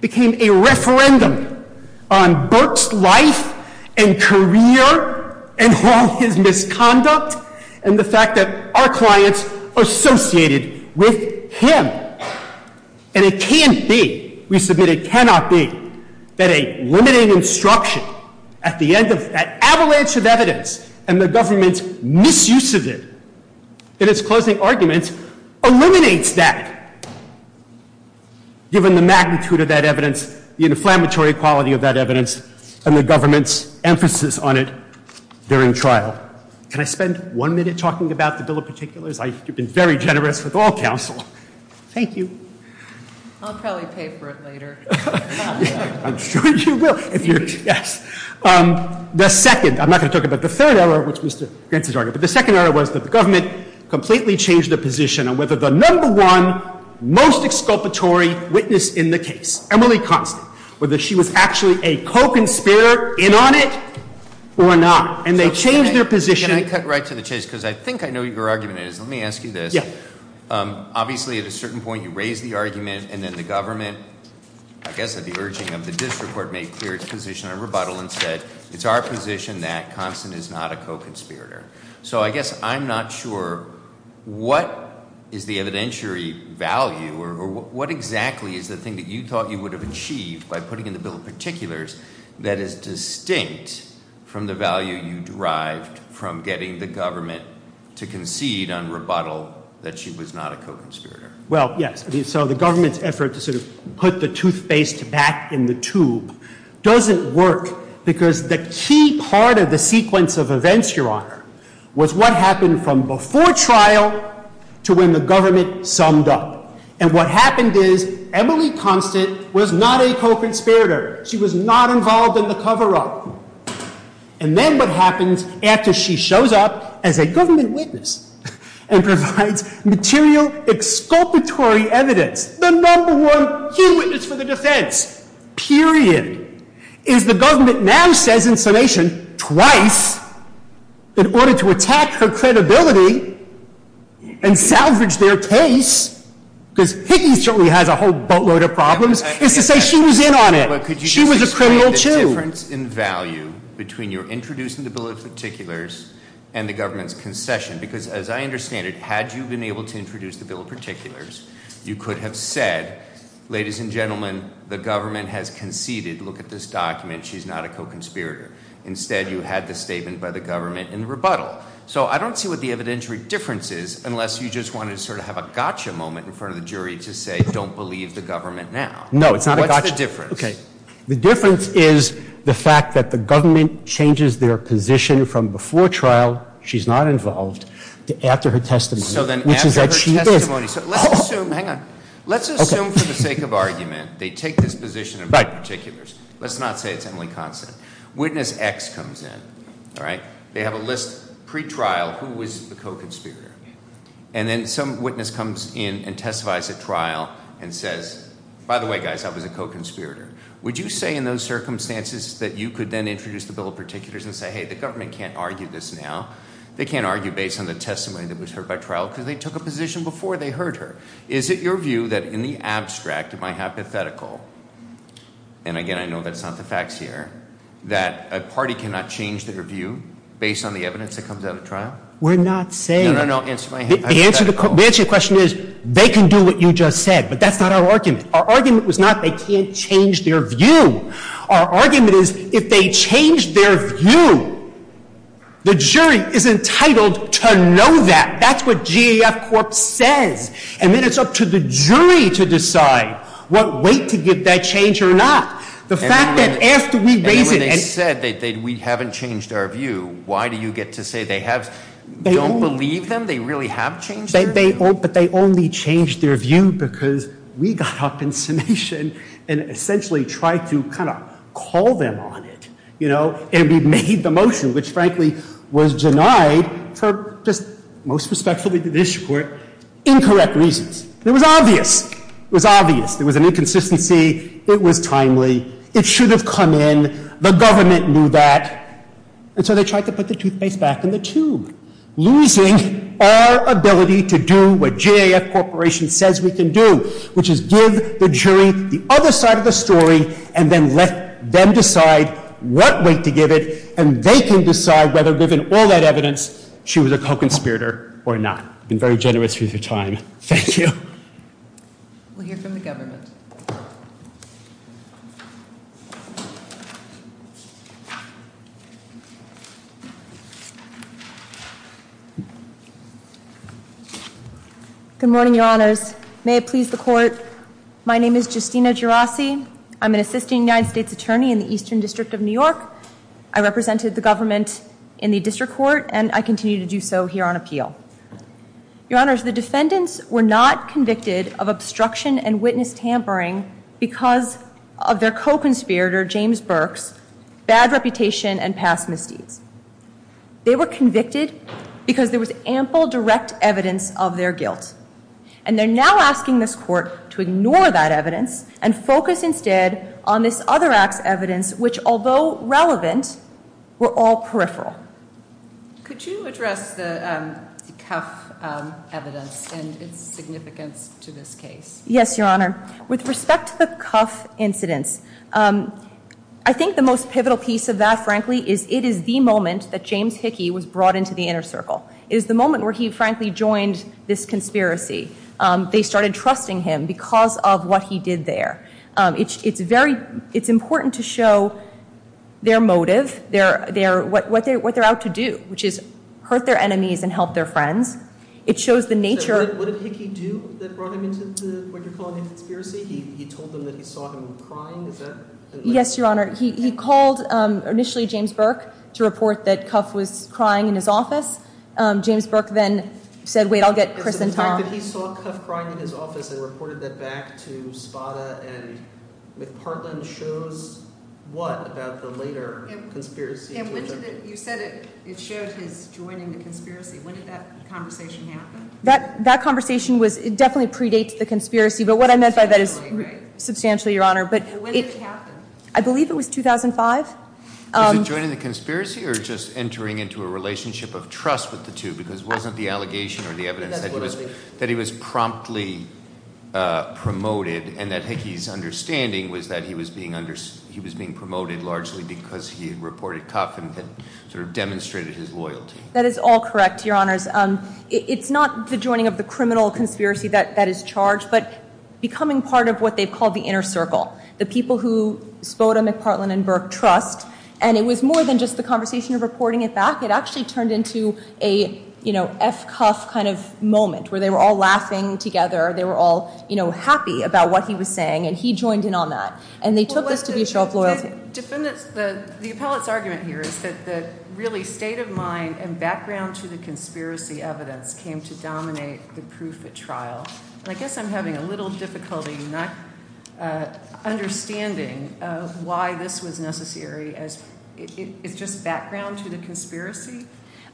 became a referendum on Burke's life and career and his misconduct and the fact that our clients are associated with him. And it can't be, we submit it cannot be, that a limited instruction at the end of that avalanche of evidence and the government's misuse of it in its closing argument eliminates that given the magnitude of that evidence, the inflammatory quality of that evidence and the government's emphasis on it during trial. Can I spend one minute talking about the bill of particulars? I've been very generous with all counsel. Thank you. I'll probably pay for it later. I'm sure you will. The second, I'm not going to talk about the third error, which was Mr. Prince's argument, but the second error was that the government completely changed their position on whether the number one most exculpatory witness in the case, Emily Kahn, whether she was actually a co-conspirator in on it or not. And they changed their position. Can I cut right to the chase? Because I think I know what your argument is. Let me ask you this. Yes. Obviously, at a certain point, you raised the argument and then the government, I guess at the urging of the district court, made clear its position on rebuttal and said, it's our position that Constance is not a co-conspirator. So I guess I'm not sure what is the evidentiary value or what exactly is the thing that you thought you would have achieved by putting in the bill of particulars that is distinct from the value you derived from getting the government to concede on rebuttal that she was not a co-conspirator. Well, yes. So the government's effort to sort of put the toothpaste back in the tube doesn't work because the key part of the sequence of events, Your Honor, was what happened from before trial to when the government summed up. And what happened is Emily Constance was not a co-conspirator. She was not involved in the cover-up. And then what happens after she shows up as a government witness and provides material exculpatory evidence, the number one key witness for the defense, period, is the government now says in summation twice in order to attack her credibility and salvage their case because Higgins certainly has a whole boatload of problems, is to say she was in on it. She was a criminal too. Could you just describe the difference in value between your introducing the bill of particulars and the government's concession? Because as I understand it, had you been able to introduce the bill of particulars, you could have said, ladies and gentlemen, the government has conceded that if you look at this document, she's not a co-conspirator. Instead, you had the statement by the government in the rebuttal. So I don't see what the evidentiary difference is unless you just wanted to sort of have a gotcha moment in front of the jury to say don't believe the government now. No. What's the difference? The difference is the fact that the government changes their position from before trial, she's not involved, to after her testimony. So then after her testimony, let's assume, hang on, let's assume for the sake of argument, they take this position of the bill of particulars. Let's not say it's Emily Consonant. Witness X comes in. They have a list, pre-trial, who was the co-conspirator. And then some witness comes in and testifies at trial and says, by the way guys, I was a co-conspirator. Would you say in those circumstances that you could then introduce the bill of particulars and say hey, the government can't argue this now. They can't argue based on the testimony that was served by trial because they took a position before they heard her. Is it your view that in the abstract, in my hypothetical, and again, I know that's not the facts here, that a party cannot change their view based on the evidence that comes out of trial? We're not saying. No, no, no, it's my hypothetical. The answer to the question is they can do what you just said, but that's not our argument. Our argument was not they can't change their view. Our argument is if they change their view, the jury is entitled to know that. That's what G.E.F. Forbes says. And then it's up to the jury to decide what weight to give that change or not. The fact that after we waited and... And when they said that we haven't changed our view, why do you get to say they have, don't believe them, they really have changed their view? But they only changed their view because we got up in summation and essentially tried to kind of call them on it, you know, and we made the motion, which frankly was denied for just most especially the district court incorrect reasons. It was obvious. It was obvious. It was an inconsistency. It was timely. It should have come in. The government knew that. And so they tried to put the toothpaste back in the tube, losing our ability to do what G.E.F. Corporation says we can do, which is give the jury the other side of the story and then let them decide what weight to give it, and they can decide whether given all that evidence she was a co-conspirator or not. You've been very generous with your time. Thank you. We'll hear from the government. Good morning, Your Honors. May it please the Court, my name is Justina Gerasi. I'm an assistant United States attorney in the Eastern District of New York. I represented the government in the district court, and I continue to do so here on appeal. Your Honors, the defendants were not convicted of obstruction and witness tampering because of their co-conspirator, James Burks, bad reputation and past misdeeds. They were convicted because there was ample direct evidence of their guilt. And they're now asking this Court to ignore that evidence and focus instead on this other act's evidence, which, although relevant, were all peripheral. Could you address the cuff evidence and its significance to this case? Yes, Your Honor. With respect to the cuff incident, I think the most pivotal piece of that, frankly, is it is the moment that James Hickey was brought into the inner circle. It is the moment where he, frankly, joined this conspiracy. They started trusting him because of what he did there. It's important to show their motive, what they're out to do, which is hurt their enemies and help their friends. It shows the nature... What did Hickey do that brought him into what you're calling a conspiracy? He told them that he saw him crying. Yes, Your Honor. He called initially James Burks to report that Cuff was crying in his office. James Burks then said, wait, I'll get Chris and Tom. He saw Cuff crying in his office and reported that back to Spada and McPartland shows what about the later conspiracy. You said it shows him joining the conspiracy. When did that conversation happen? That conversation definitely predates the conspiracy, but what I meant by that is substantially, Your Honor. When did it happen? I believe it was 2005. He was joining the conspiracy or just entering into a relationship of trust with the two because it wasn't the allegation or the evidence that he was promptly promoted and that Hickey's understanding was that he was being promoted largely because he had reported Cuff and demonstrated his loyalty. That is all correct, Your Honor. It's not the joining of the criminal conspiracy that is charged, but becoming part of what they call the inner circle, the people who Spoda, McPartland, and Burke trust. And it was more than just the conversation of reporting it back. It actually turned into a S. Cuff kind of moment where they were all laughing together. They were all happy about what he was saying and he joined in on that. And they took this to be a show of loyalty. The appellate's argument here is that the really state of mind and background to the conspiracy evidence came to dominate the proof at trial. I guess I'm having a little difficulty not understanding why this was necessary as it's just background to the conspiracy?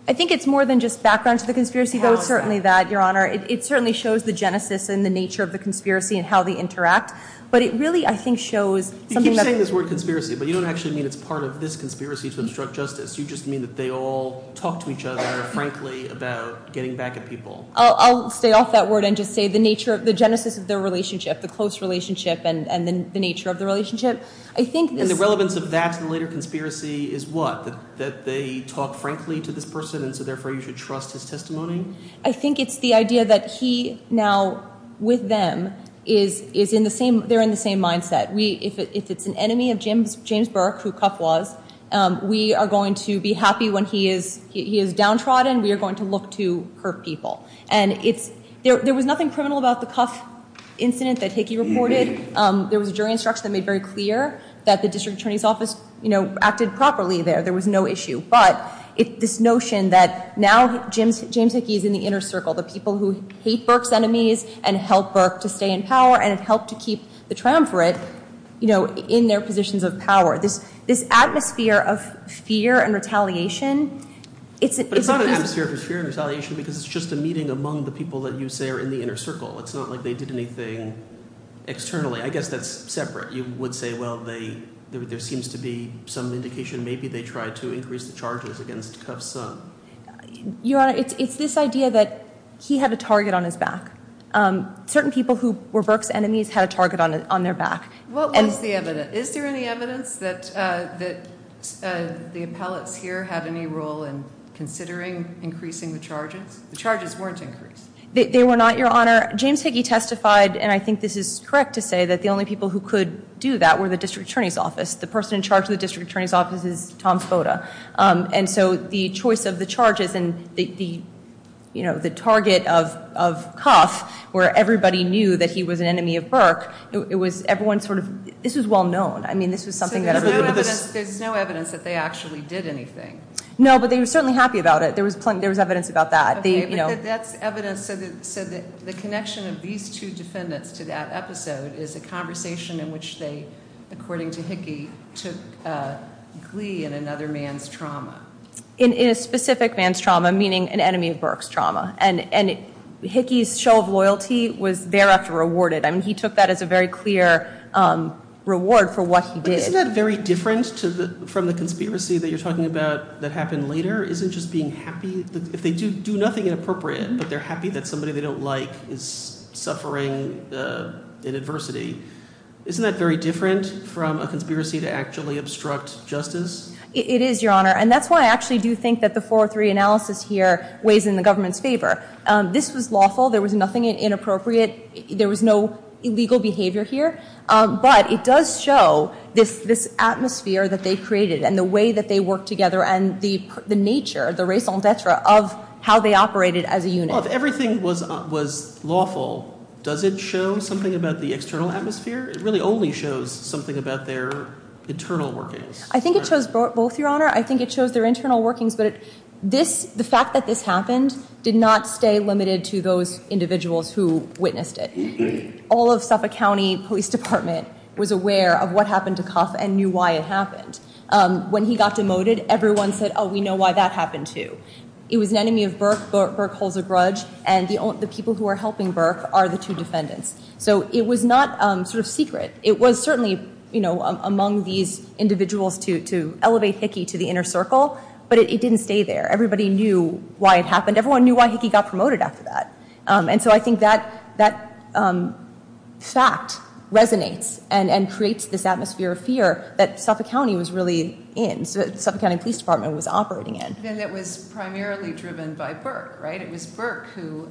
I think it's more than just background to the conspiracy, though it's certainly that, Your Honor. It certainly shows the genesis and the nature of the conspiracy and how they interact. But it really, I think, shows something that... You keep saying this word conspiracy, but you don't actually mean it's part of this conspiracy to obstruct justice. You just mean that they all talk to each other, frankly, about getting back at people. I'll stay off that word and just say the genesis of their relationship, the close relationship and the nature of the relationship. I think... And the relevance of that related conspiracy is what? That they talk frankly to this person and so therefore you should trust his testimony? I think it's the idea that he now, with them, is in the same... They're in the same mindset. If it's an enemy of James Burke, who Cuff was, we are going to be happy when he is downtrodden. We are going to look to hurt people. And there was nothing criminal about the Cuff incident that Hickey reported. There was jury instruction that made very clear that the district attorney's office acted properly there. There was no issue. But it's this notion that now James Hickey is in the inner circle, the people who see Burke's enemies and help Burke to stay in power and help to keep the triumvirate in their positions of power. This atmosphere of fear and retaliation... It's not an atmosphere of fear and retaliation because it's just a meeting among the people that you say are in the inner circle. It's not like they did anything externally. I guess that's separate. You would say, well, there seems to be some indication maybe they tried to increase the charges against Cuff's son. Your Honor, it's this idea that he had a target on his back. Certain people who were Burke's enemies had a target on their back. What was the evidence? Is there any evidence that the appellate peer had any role in considering increasing the charges? The charges weren't increased. They were not, Your Honor. James Hickey testified, and I think this is correct to say, that the only people who could do that were the district attorney's office. The person in charge of the district attorney's office is Tom Sota. The choice of the charges and the target of Cuff, where everybody knew that he was an enemy of Burke, everyone sort of... This is well known. I mean, this is something that we have to do. There's no evidence that they actually did anything. No, but they were certainly happy about it. There was evidence about that. That's evidence so that the connection of these two defendants to that episode is a conversation in which they, according to Hickey, took glee in another man's trauma. In a specific man's trauma, meaning an enemy of Burke's trauma. And Hickey's show of loyalty was thereafter rewarded. I mean, he took that as a very clear reward for what he did. Isn't that very different from the conspiracy that you're talking about that happened later? Isn't just being happy... If they do nothing inappropriate, but they're happy that somebody they don't like is suffering an adversity, isn't that very different from a conspiracy to actually obstruct justice? It is, Your Honor, and that's why I actually do think that the 4-3 analysis here weighs in the government's favor. This was lawful. There was nothing inappropriate. There was no illegal behavior here, but it does show this atmosphere that they created and the way that they worked together and the nature of the raison d'etre of how they operated as a unit. If everything was lawful, does it show something about the external atmosphere? It really only shows something about their internal workings. I think it shows both, Your Honor. I think it shows their internal workings, but the fact that this happened did not stay limited to those individuals who witnessed it. All of Suffolk County Police Department was aware of what happened to Kass and knew why it happened. When he got demoted, everyone said, Oh, we know why that happened, too. It was an enemy of Burke. Burke holds a grudge, and the people who are helping Burke are the two defendants. It was not secret. It was certainly among these individuals to elevate Hickey to the inner circle, but it didn't stay there. Everybody knew why it happened. Everyone knew why Hickey got promoted after that, and so I think that fact resonates and creates this atmosphere of fear that Suffolk County was really in, that the Suffolk County Police Department was operating in. It was primarily driven by Burke, right? It was Burke who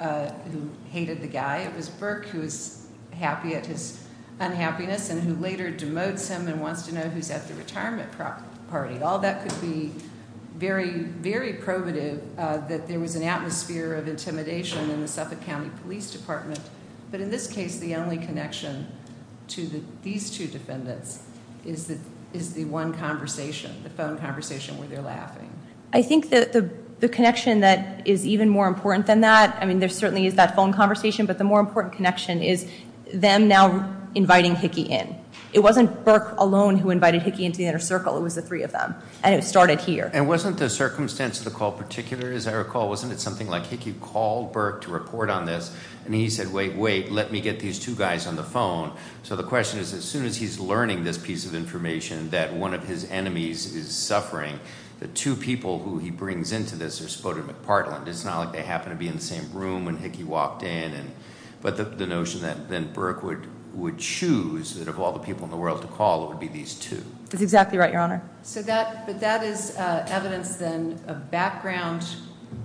hated the guy. It was Burke who was happy at his unhappiness and who later demotes him and wants to know who's at the retirement party. All that could be very, very probative that there was an atmosphere of intimidation in the Suffolk County Police Department, but in this case, the only connection to these two defendants is the one conversation, the phone conversation where they're laughing. I think that the connection that is even more important than that, I mean, there certainly is that phone conversation, but the more important connection is them now inviting Hickey in. It wasn't Burke alone who invited Hickey into the inner circle. It was the three of them, and it started here. And wasn't the circumstance of the call particular? As I recall, wasn't it something like Hickey called Burke to report on this, and he said, wait, wait, let me get these two guys on the phone? So the question is, as soon as he's learning this piece of information that one of his enemies is suffering, the two people who he brings into this are splitting them apart. It's not like they happen to be in the same room when Hickey walked in. But the notion that Burke would choose out of all the people in the world to call, it would be these two. That's exactly right, Your Honor. But that is evidence then of background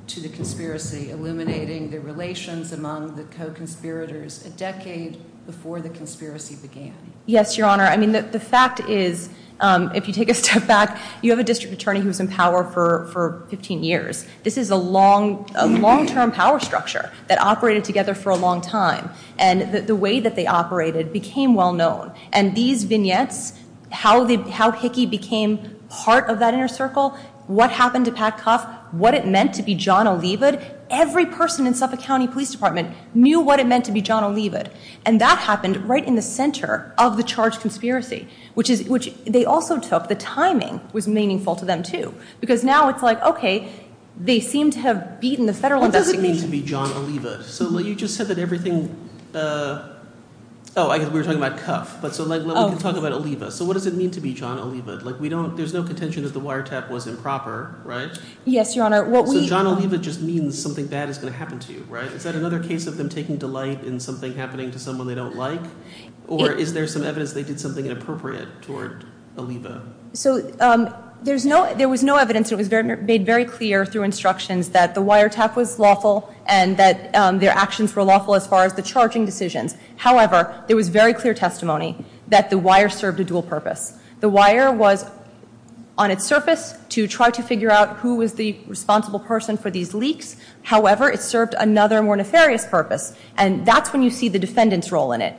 to the conspiracy, illuminating the relations among the co-conspirators a decade before the conspiracy began. Yes, Your Honor. I mean, the fact is, if you take a step back, you have a district attorney who's in power for 15 years. This is a long-term power structure that operated together for a long time. And the way that they operated became well-known. And these vignettes, how Hickey became part of that inner circle, what happened to Pat Cuff, what it meant to be John Oliva, every person in Suffolk County Police Department knew what it meant to be John Oliva. And that happened right in the center of the charged conspiracy, which they also took. The timing was meaningful to them, too, because now it's like, okay, they seem to have beaten the federal investigation. What does it mean to be John Oliva? So you just said that everything... Oh, we were talking about Cuff, but let's talk about Oliva. So what does it mean to be John Oliva? There's no contention that the wiretap wasn't proper, right? Yes, Your Honor. So John Oliva just means something bad is going to happen to you, right? Is that another case of them taking delight in something happening to someone they don't like? Or is there some evidence they did something inappropriate toward Oliva? So there was no evidence. It was made very clear through instructions that the wiretap was lawful and that their actions were lawful as far as the charging decision. However, there was very clear testimony that the wire served a dual purpose. The wire was, on its surface, to try to figure out who was the responsible person for these leaks. However, it served another more nefarious purpose. And that's when you see the defendant's role in it.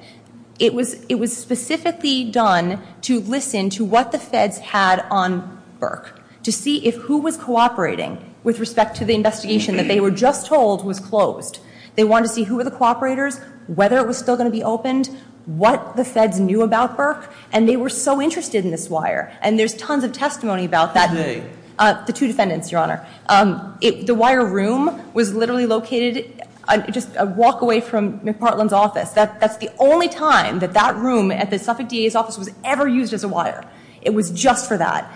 It was specifically done to listen to what the feds had on Burke to see if who was cooperating with respect to the investigation that they were just told was closed. They wanted to see who were the cooperators, whether it was still going to be opened, what the feds knew about Burke, and they were so interested in this wire. And there's tons of testimony about that. The two defendants, Your Honor. The wire room was literally located just a walk away from McPartland's office. That's the only time that that room at the Suffolk DA's office was ever used as a wire. It was just for that.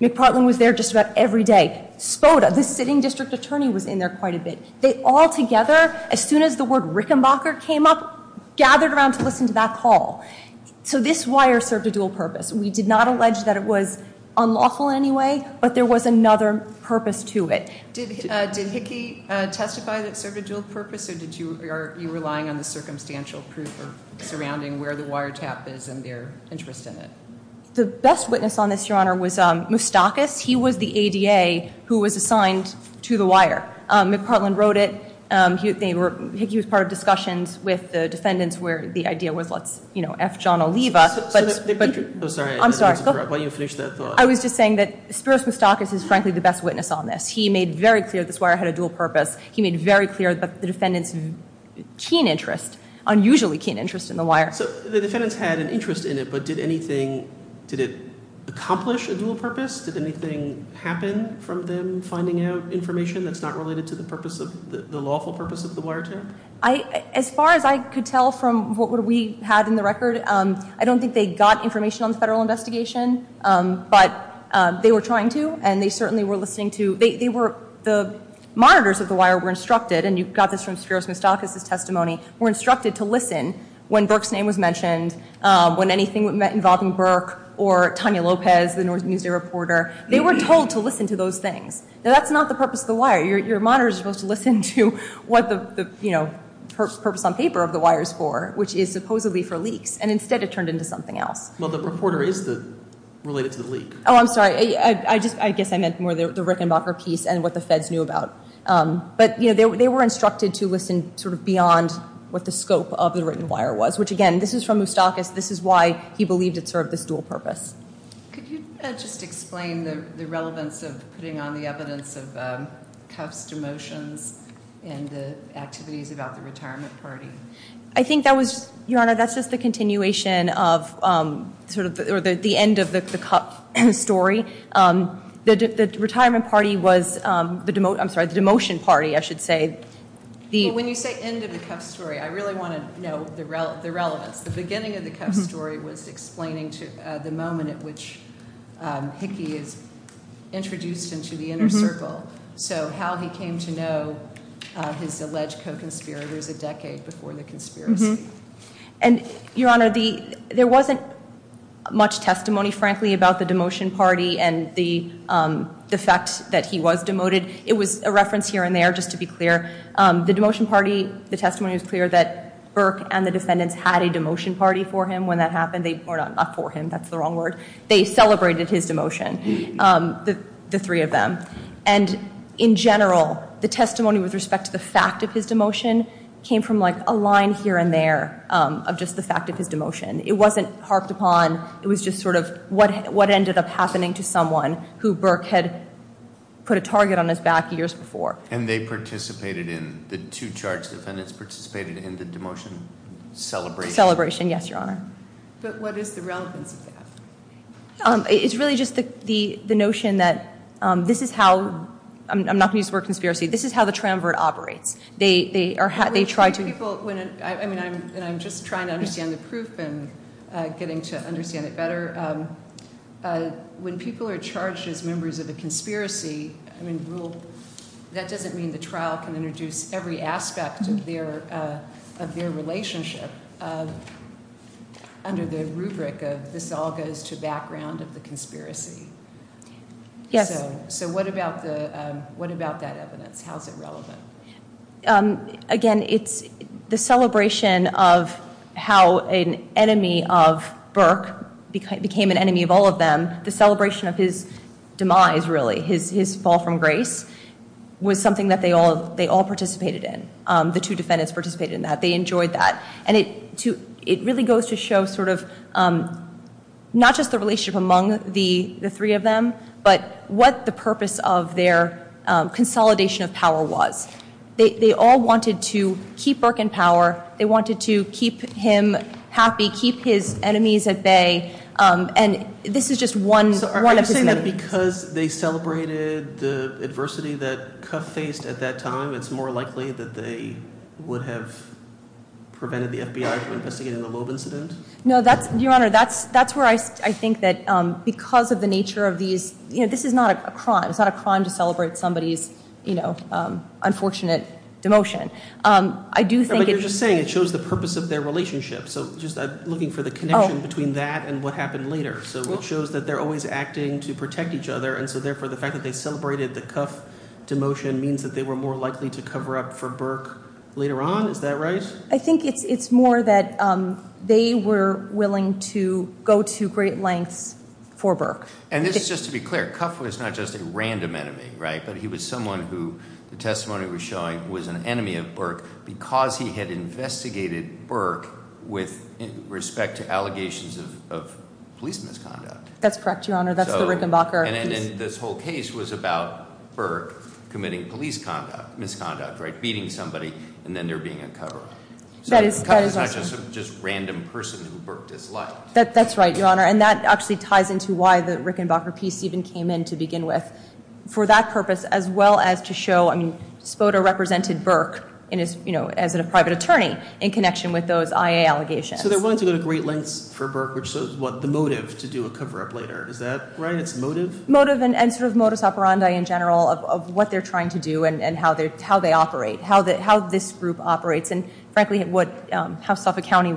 McPartland was there just about every day. Spoda, the sitting district attorney, was in there quite a bit. They all together, as soon as the word Rickenbacker came up, gathered around to listen to that call. So this wire served a dual purpose. We did not allege that it was unlawful anyway, but there was another purpose to it. Did Hickey testify that it served a dual purpose, or are you relying on the circumstantial proof surrounding where the wire tap is and their interest in it? The best witness on this, Your Honor, was Moustakis. He was the ADA who was assigned to the wire. McPartland wrote it. He was part of discussions with the defendants where the idea was, you know, F. John will leave us. I'm sorry. Go for it. Why don't you finish that. I was just saying that Spiros Moustakis is frankly the best witness on this. He made very clear that this wire had a dual purpose. He made very clear that the defendant had a keen interest, unusually keen interest in the wire. So the defendants had an interest in it, but did anything, did it accomplish a dual purpose? Did anything happen from them finding out information that's not related to the purpose of, the lawful purpose of the wire tap? As far as I could tell from what we have in the record, I don't think they got information on the federal investigation, but they were trying to, and they certainly were listening to, they were, the monitors of the wire were instructed, and you've got this from Spiros Moustakis' testimony, were instructed to listen when Burke's name was mentioned, when anything involved in Burke or Tonya Lopez, the Newsy reporter, they were told to listen to those things. Now that's not the purpose of the wire. Your monitor is supposed to listen to what the, you know, purpose on paper of the wire is for, which is supposedly for leaks, and instead it turned into something else. Well, the reporter is the, related to the leaks. Oh, I'm sorry. I guess I meant more the Rickenbacker piece and what the feds knew about. But, you know, they were instructed to listen sort of beyond what the scope of the written wire was, which, again, this is from Moustakis. This is why he believed it served this dual purpose. Could you just explain the relevance of putting on the evidence of Cuff's demotion and the activities about the retirement party? I think that was, Your Honor, that's just the continuation of, sort of, or the end of the Cuff story. The, the, the retirement party was the, I'm sorry, the demotion party, I should say. When you say end of the Cuff story, I really want to know the relevance. The beginning of the Cuff story was explaining the moment at which Hickey is introduced into the inner circle. So, how he came to know his alleged co-conspirators a decade before the conspiracy. And, Your Honor, the, there wasn't much testimony, frankly, about the demotion party and the, the fact that he was demoted. It was a reference here and there, just to be clear. The demotion party, the testimony was clear that Burke and the defendants had a demotion party for him. When that happened, they, not for him, that's the wrong word, they celebrated his demotion, the three of them. And, in general, the testimony with respect to the fact of his demotion came from, like, a line here and there of just the fact of his demotion. It wasn't harped upon, it was just, sort of, what ended up happening to someone who Burke had put a target on his back years before. And they participated in, the two charged defendants participated in the demotion celebration? Celebration, yes, Your Honor. But what is the relevance of that? It's really just the, the notion that this is how, I'm, I'm not going to use word conspiracy, this is how the triumvirate operates. They, they are, they try to, I mean, I'm just trying to understand the proof and getting to understand it better. When people are charged as members of the conspiracy, I mean, rule, that doesn't mean the trial can introduce every aspect of their, of their relationship under the rubric of this all goes to background of the conspiracy. so what about the, what about that evidence? How is it relevant? Again, it's the celebration of how a, a, a, a, a, a, a, an e YA hav. An enemy of Burke became an enemy of all of them. The celebration of his demise, really, his, his fall from grace was something they all, they all participated in. The two defendant s participated in that, they enjoyed that. It really goes to show sort of, not the relationship among the three of them, but what's the purpose of their consolidation of power was. They, they all wanted to keep Burke in power. They wanted to keep him happy, keep his enemies at bay, and this is just one, one of the things. Because they celebrated the adversity that Cuff faced at that time, it's more likely that they would have prevented the FBI from investigating the Loeb incident? No, that's, that's where I, I think that because of the nature of these, you know, this is not a crime, it's not a crime to celebrate somebody's, you know, unfortunate demotion. I do think it's But you're just saying it shows the purpose of their relationship, so just looking for the connection between that and what happened later. So it shows that they're always acting to protect each other, and so therefore the fact that they celebrated the Cuff demotion means that they were more likely to cover up for Burke later on, is that right? I think it's more that they were willing to go to great lengths for Burke. And this is just to be clear, Cuff was not just a random enemy, right, but he was someone who, the testimony was showing, was an enemy of Burke because he had investigated Burke with respect to allegations of police misconduct. That's correct, Your Honor, that's the Rickenbacker. And this whole case was about Burke committing police misconduct, right, beating somebody, and then they're being empowered. So Cuff was not just a random person who Burke disliked. That's right, Your Honor, and that actually ties into why the Rickenbacker piece even came in to begin with, for that purpose as well as to show, I think, that he was someone who was an enemy of Burke as a private attorney in connection with those IA So there wasn't a great length for Burke which was the motive to do a cover-up later. Is that right? It's motive? It's motive and sort of modus operandi in general of what they're trying to do and how they operate, how this group operates, and frankly it would have tough accounting.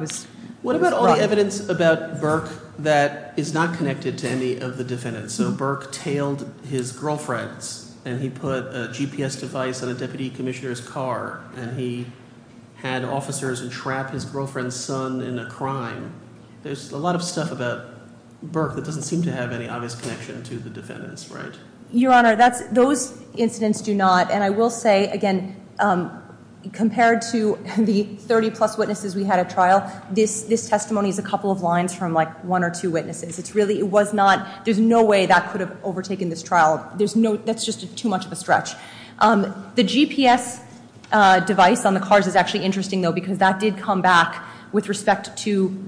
What about all the evidence about Burke that is not connected to any of the defendants? So Burke tailed his testimony to the defendants, right? Your Honor, those incidents do not and I will say, again, compared to the 30 plus witnesses we had at trial, this testimony is a couple of lines from one or two witnesses. There's no way that could have overtaken this trial. That's just too much of a stretch. The GPS device on the cars is actually interesting because that did come back with respect to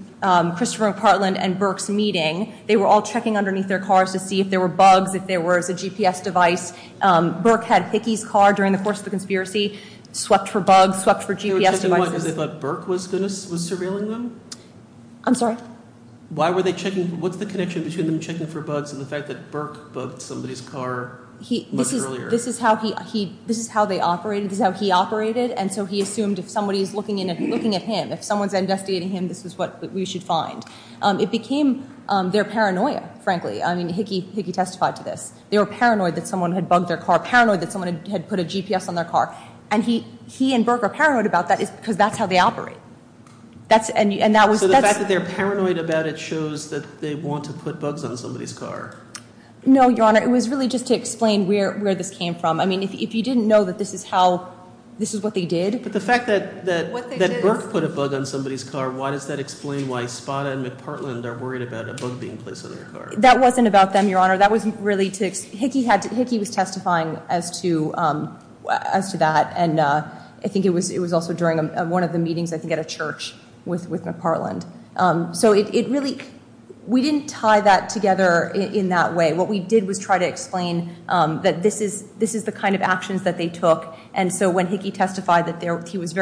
Christopher and Burke's meeting. They were checking underneath their cars to see if there were bugs. Burke had his car during the course of the conspiracy and swept for his car. This is how he operated and he assumed if someone was investigating him, this is what we should find. It became their paranoia. They were paranoid that someone had put a GPS on their car. He and Burke are paranoid because that's how they operate. The fact that they're paranoid about it shows they want to put bugs on someone's car. It was to explain where this came from. If you didn't know this is what they did. The fact that Burke put a bug on someone's car, why does that explain why they're worried about it? That wasn't about them. Hickey was testifying as to that. I think it was also during one of the meetings at a church. We didn't tie that together in that way. What we did was try to explain that this is the kind of actions they took. When Hickey testified he was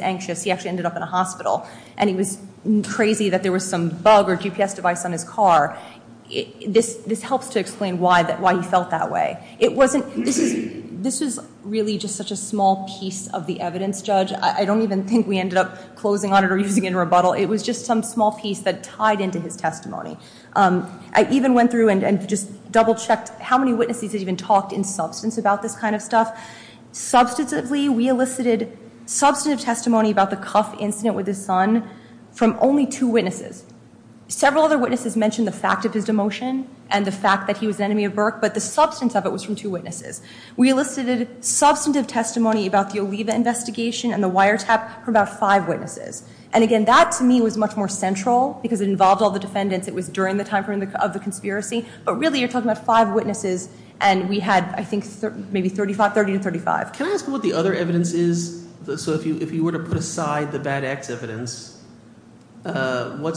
anxious and ended up in a hospital. He was crazy that there was a bug on his car. This helps to explain why he felt that way. This is really just such a small piece of the evidence. I don't think we ended up closing on it. It was tied into his testimony. I even went through and double checked how many witnesses there were. We elicited testimony about the cuff incident with his son from only two witnesses. Several other witnesses mentioned the fact that he was an enemy of Burke. We elicited testimony about five witnesses. That was more central because it wasn't just one witness. We had maybe 35. Can I ask what the other evidence is? If you were to put aside the bad act evidence, what are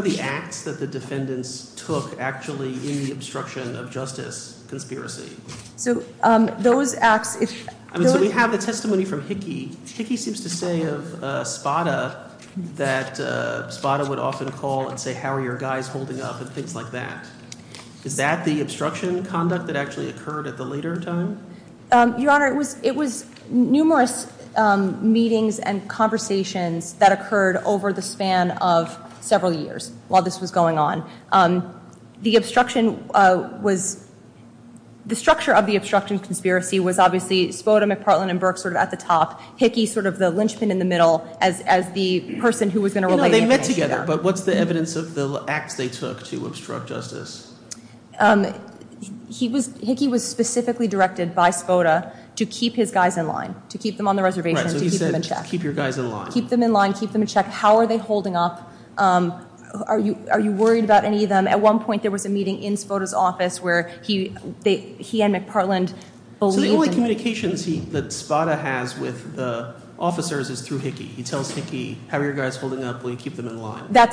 the acts that the defendants took in the obstruction of justice conspiracy? We have testimony from Hickey. Hickey seems to say of Spada that Spada would often call and say how are your guys holding up and things like that. Is that the obstruction conduct? It was numerous meetings and conversations that occurred over the span of several years while this was going on. The structure of this was that Hickey was specifically directed by Spada to keep his guys in line. How are they holding up? Are you worried about any of them? At one point there was a meeting in Spada's office. The only communication that Spada has with Spada is through Hickey. That's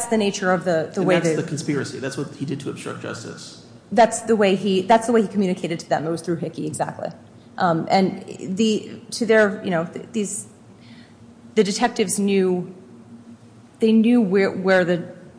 the nature of the way he did to obstruct justice. That's the way he communicated to them. The detectives knew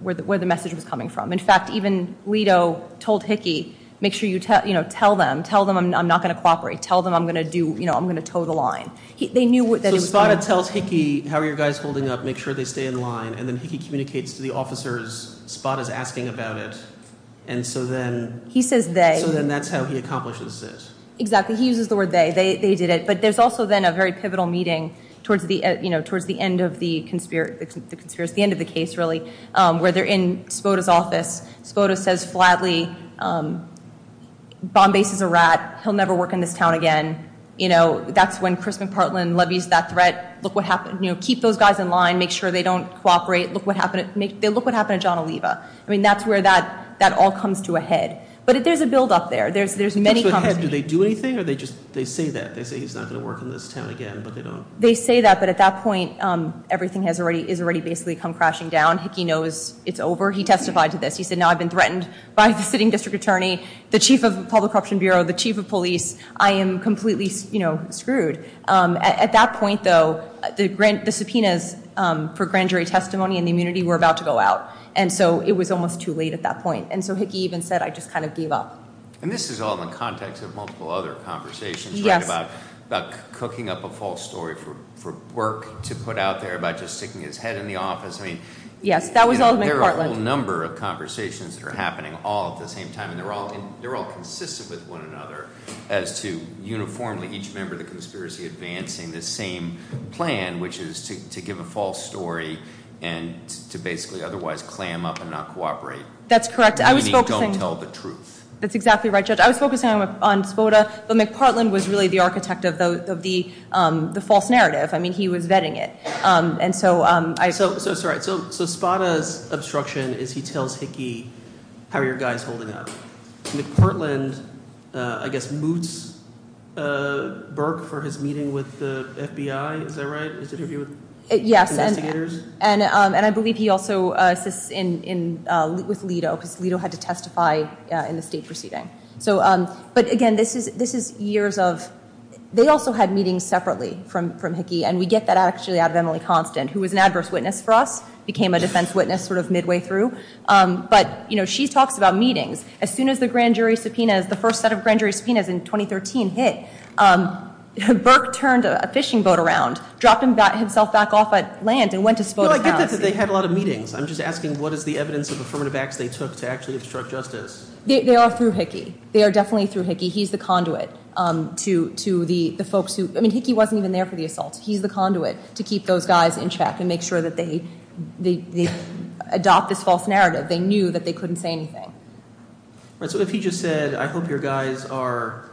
where the message was coming from. In fact, even Lito told Hickey tell them I'm not going to cooperate. I'm going to toe the line. He tells Hickey make sure they stay in line. He communicates to the officers. So that's how he accomplishes this. There's a pivotal meeting towards the end of the case, really, where they're in Spada's office. Spada says flatly Bombay is a rat. He'll say keep those guys in line, make sure they don't cooperate. That's where that all comes to a head. But there's a buildup there. They say that, but at that point, everything has already come crashing down. He testified to this. The chief of the public corruption bureau, the chief of police, I am completely screwed. At that point, though, the subpoenas were about to go out. It was almost too late at So he said he gave up. This is all in context of multiple other conversations about cooking up a false story for work to put There's a whole number of conversations happening all at the same time. They're all consistent with one another as to uniformly each member of the conspiracy advancing the same plan, which is to give a false story and to basically otherwise clam up and not cooperate. That's correct. I was focusing on Spada, but Ms. Portland was the architect of the false narrative. He was vetting it. So Spada's obstruction is he tells Hickey how your guy is holding up. Ms. Portland, I guess, moots Burke for his meeting with the FBI. Is that right? Yes. And I believe he also assisted with Lito. Lito had to testify in the state proceeding. But again, this is years of they also had meetings separately from Hickey. She talked about meetings. As soon as the first set of grand jury subpoenas in 2013 hit, Burke turned a blind eye to Hickey. I'm asking what is the evidence of affirmative action they took. They are through Hickey. He's the conduit. He's the conduit to keep those guys in check and make sure they adopt this false narrative. They knew they couldn't say anything. If he just said I hope your guys are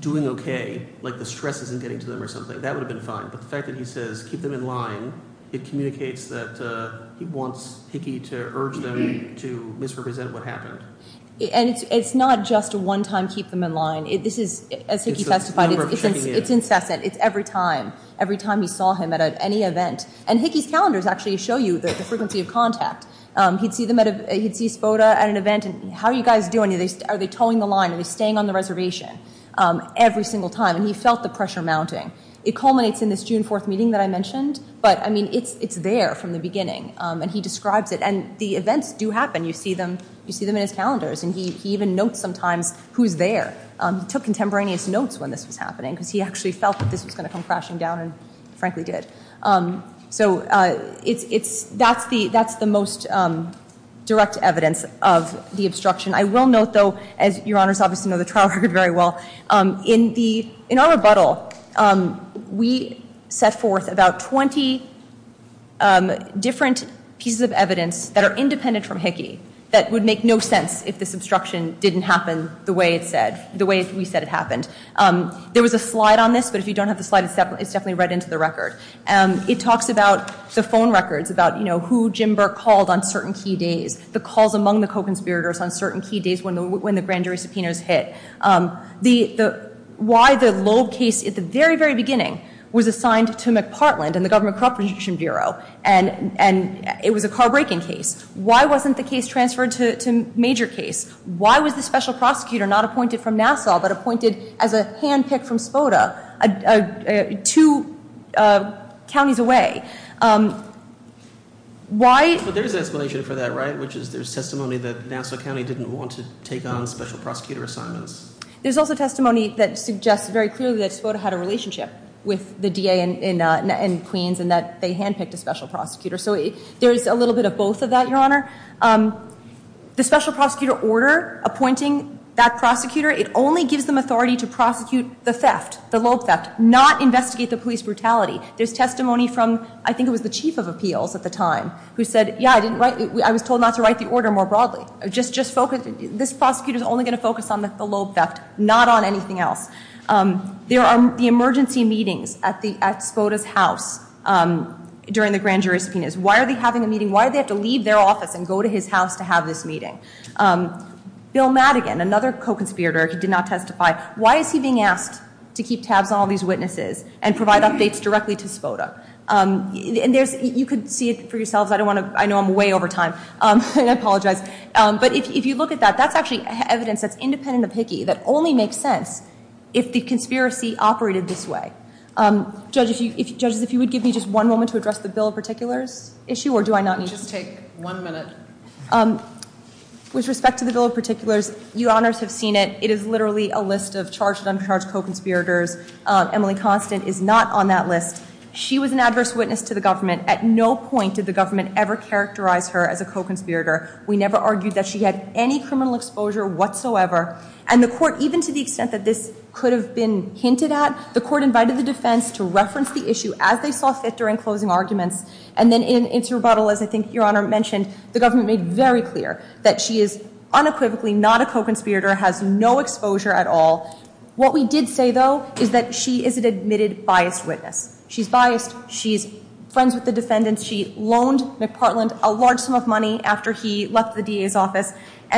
doing okay, like the stress isn't getting to them or something, that would have been fine. But the fact that he said keep them in line, it communicates that he wants Hickey to urge them to misrepresent what happened. It's not just one time that keep them in line. He felt the pressure mounting. It culminates in the June 4th meeting. It's there from the beginning. The events do happen. You see them in the calendars. He took contemporaneous notes when this was happening. That's the most direct evidence of the trial. In our rebuttal, we set forth about 20 different pieces of evidence that are independent from Hickey that would make no sense if it didn't happen the way we said it happened. There was a slide on this. It talks about the phone records, who Jim Burke called on certain key days, the calls among the conspirators when the grand jury subpoenas hit. Why the low case at the beginning was assigned to McPartland and it was a car-breaking case. Why wasn't the case transferred to a major case? Why was the prosecutor not appointed as a special appointed as a special prosecutor and there was a handpick from Spoda two counties away. There is testimony that they didn't want to take on special prosecutors. There is testimony that they want to take on special prosecutors. There is testimony from the chief of appeals who said I was told not to write the order more broadly. This prosecutor is only going to focus on the lobe theft. There are emergency meetings at the Spoda office. Why are they having a meeting? Why do they have to leave their office and go to his house? Another co-conspirator did not testify. Why is he being asked to keep tabs on these witnesses? You can see it for yourself. I know I'm way over time. That is not true. There is evidence that only makes sense if the conspiracy operated this way. If you would give me a moment to address the bill. It is literally a list of charged conspirators. She was an adverse witness to the government. We never argued that she had any criminal exposure. The court invited the defense to reference the issue. The government made very clear that she is not a co-conspirator. What we did say is that she is an admitted biased witness. She left the DA's office.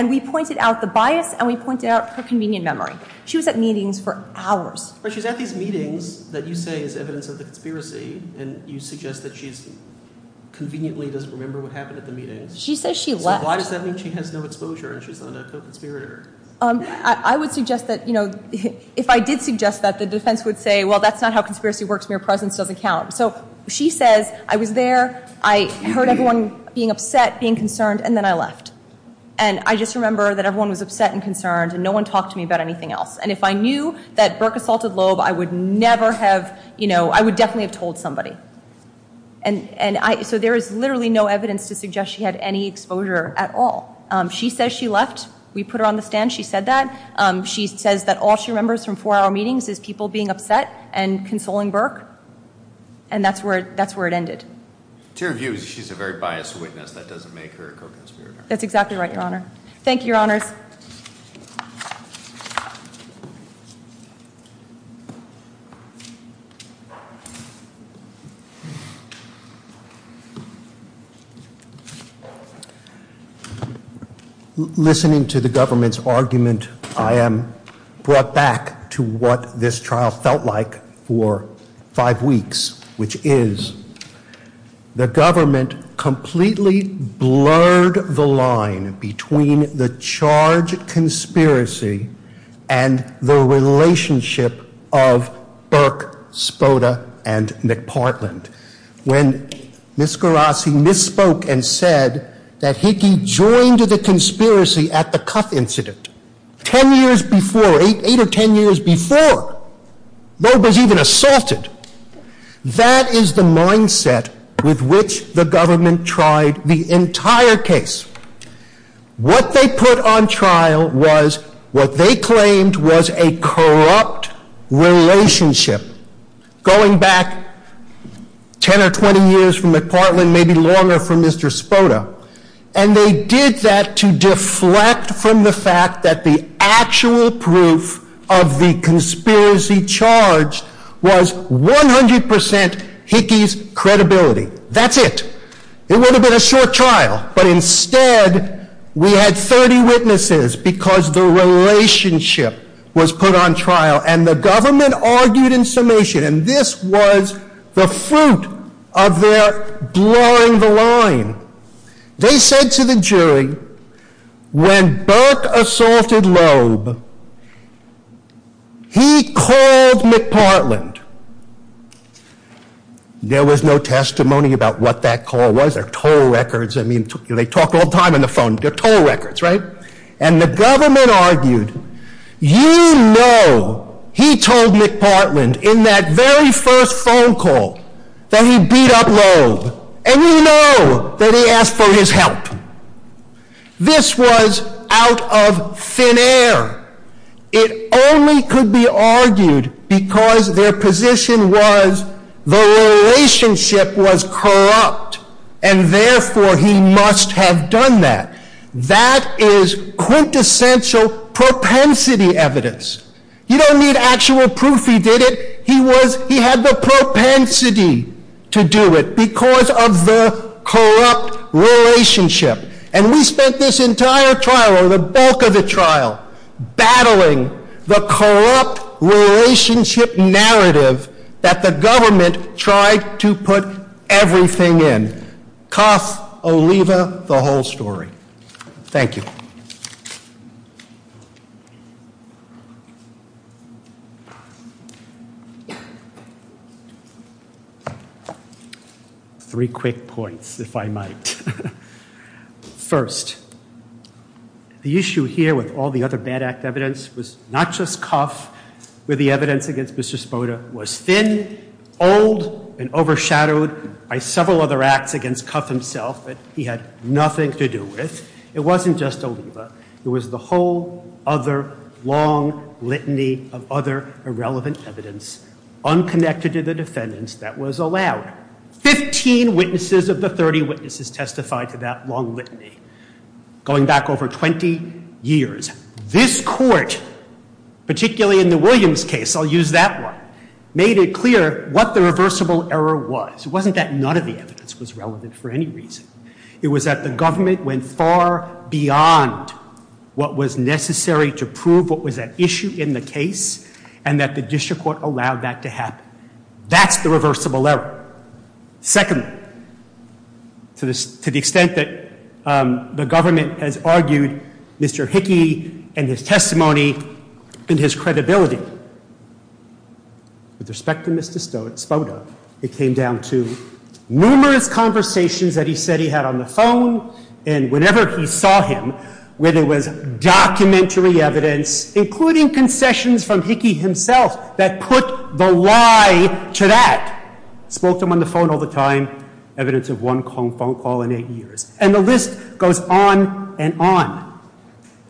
We pointed out the bias and her convenient memory. She was at meetings for hours. She said she left. Why does that mean she has no exposure? I would suggest that if I did suggest that, the defense would say that is not how conspiracy works. She said I was there. I heard everyone being upset and concerned and then I left. I remember everyone was upset and concerned. If I knew that Burke assaulted Loeb, I would have told somebody. There is no evidence to suggest she had any exposure at all. She said she left. We put her on the stand. She said that. She said all she remembers is people being upset and consoling Burke. That is where it ended. Thank you, your honors. I am read the argument that I brought back to the government. I am brought back to what for five weeks. Which is the government completely blurred the line between the charge and the charge itself. And that is the charge conspiracy and the relationship of Burke, Spoda, and McPartland. When he misspoke and said that he joined the conspiracy at the incident. Ten years before, eight or ten years before, Loeb was even assaulted. That is the mindset with which the government tried the entire case. What they put on trial was what they claimed was a corrupt relationship. Going back 10 or 20 years from McPartland, maybe longer from Mr. Spoda. And they did that to deflect from the fact that the actual proof of the conspiracy was the responsibility. That's it. It would have been a short trial, but instead we had 30 witnesses because the relationship was put on trial. And the government argued in summation, and this was the fruit of their blurring the line. They said to Mr. you have no testimony about what that call was. They talked all the time on the phone. And the government argued, you know he told McPartland in that very first phone call that he beat up Lowe. And you know that he asked for his help. This was out of thin air. It only could be argued because their position was the relationship was corrupt and therefore he must have done that. That is quintessential propensity evidence. You don't need actual proof he did it. He had the propensity to do it because of his corrupt relationship. And we spent this entire trial or the bulk of the trial battling the corrupt relationship narrative that the government tried to put everything in. The whole story. Thank you. Three quick points if I might. First, the issue here with all the other bad act evidence was not just Cuff but the evidence against Mr. Sponer was thin, old, and overshadowed by several other acts against Cuff himself but he had nothing to do with. It wasn't just Oliva. It was the whole other long litany of other irrelevant evidence that was allowed. 15 witnesses testified to that litany going back over 20 years. This court particularly in the Williams case made it clear what the issue was. It was far beyond what was necessary to prove what was at issue in the case and that the district court allowed that to happen. That's the reversible error. Second, to the extent that the government has argued Mr. Hickey and his testimony and his credibility, with respect to Mr. Spoda, it came down to numerous conversations that he said he had on the phone and whenever he saw him where there was documentary evidence including concessions from Hickey himself that put the lie to that. Spoke to him on the phone all the time, evidence of one phone call in eight years. And the list goes on and on.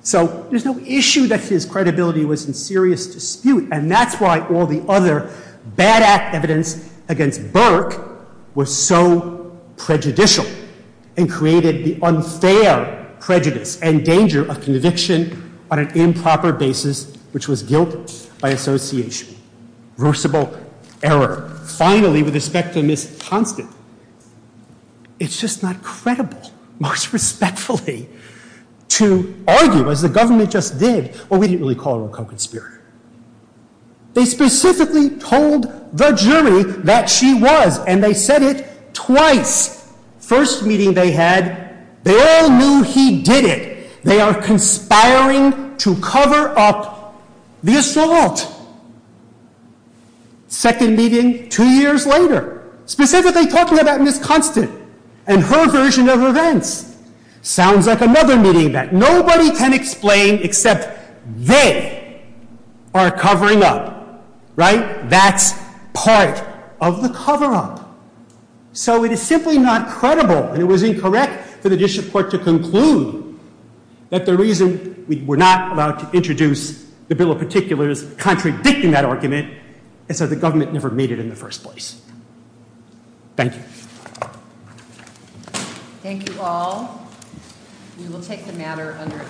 So there's no issue that his credibility was in serious dispute and that's why all the other bad act evidence against Burke was so prejudicial and created the unfair prejudice and danger of conviction on an improper basis which was guilty by association. Finally, with respect to Mr. Thompson, it's just not credible most respectfully to argue as the government did. They specifically told the jury that she was and they said it twice. First meeting they had, they all knew he did it. They are conspiring to cover up the assault. Second meeting, two years later, specifically talking about Ms. Thompson and her version of the case, they are covering up. That's part of the cover up. So it is simply not credible and incorrect to conclude that the reason we were not allowed to introduce the bill is contradicting that argument and so the government never made it in the first place. Thank you. Thank you all. We will take the matter under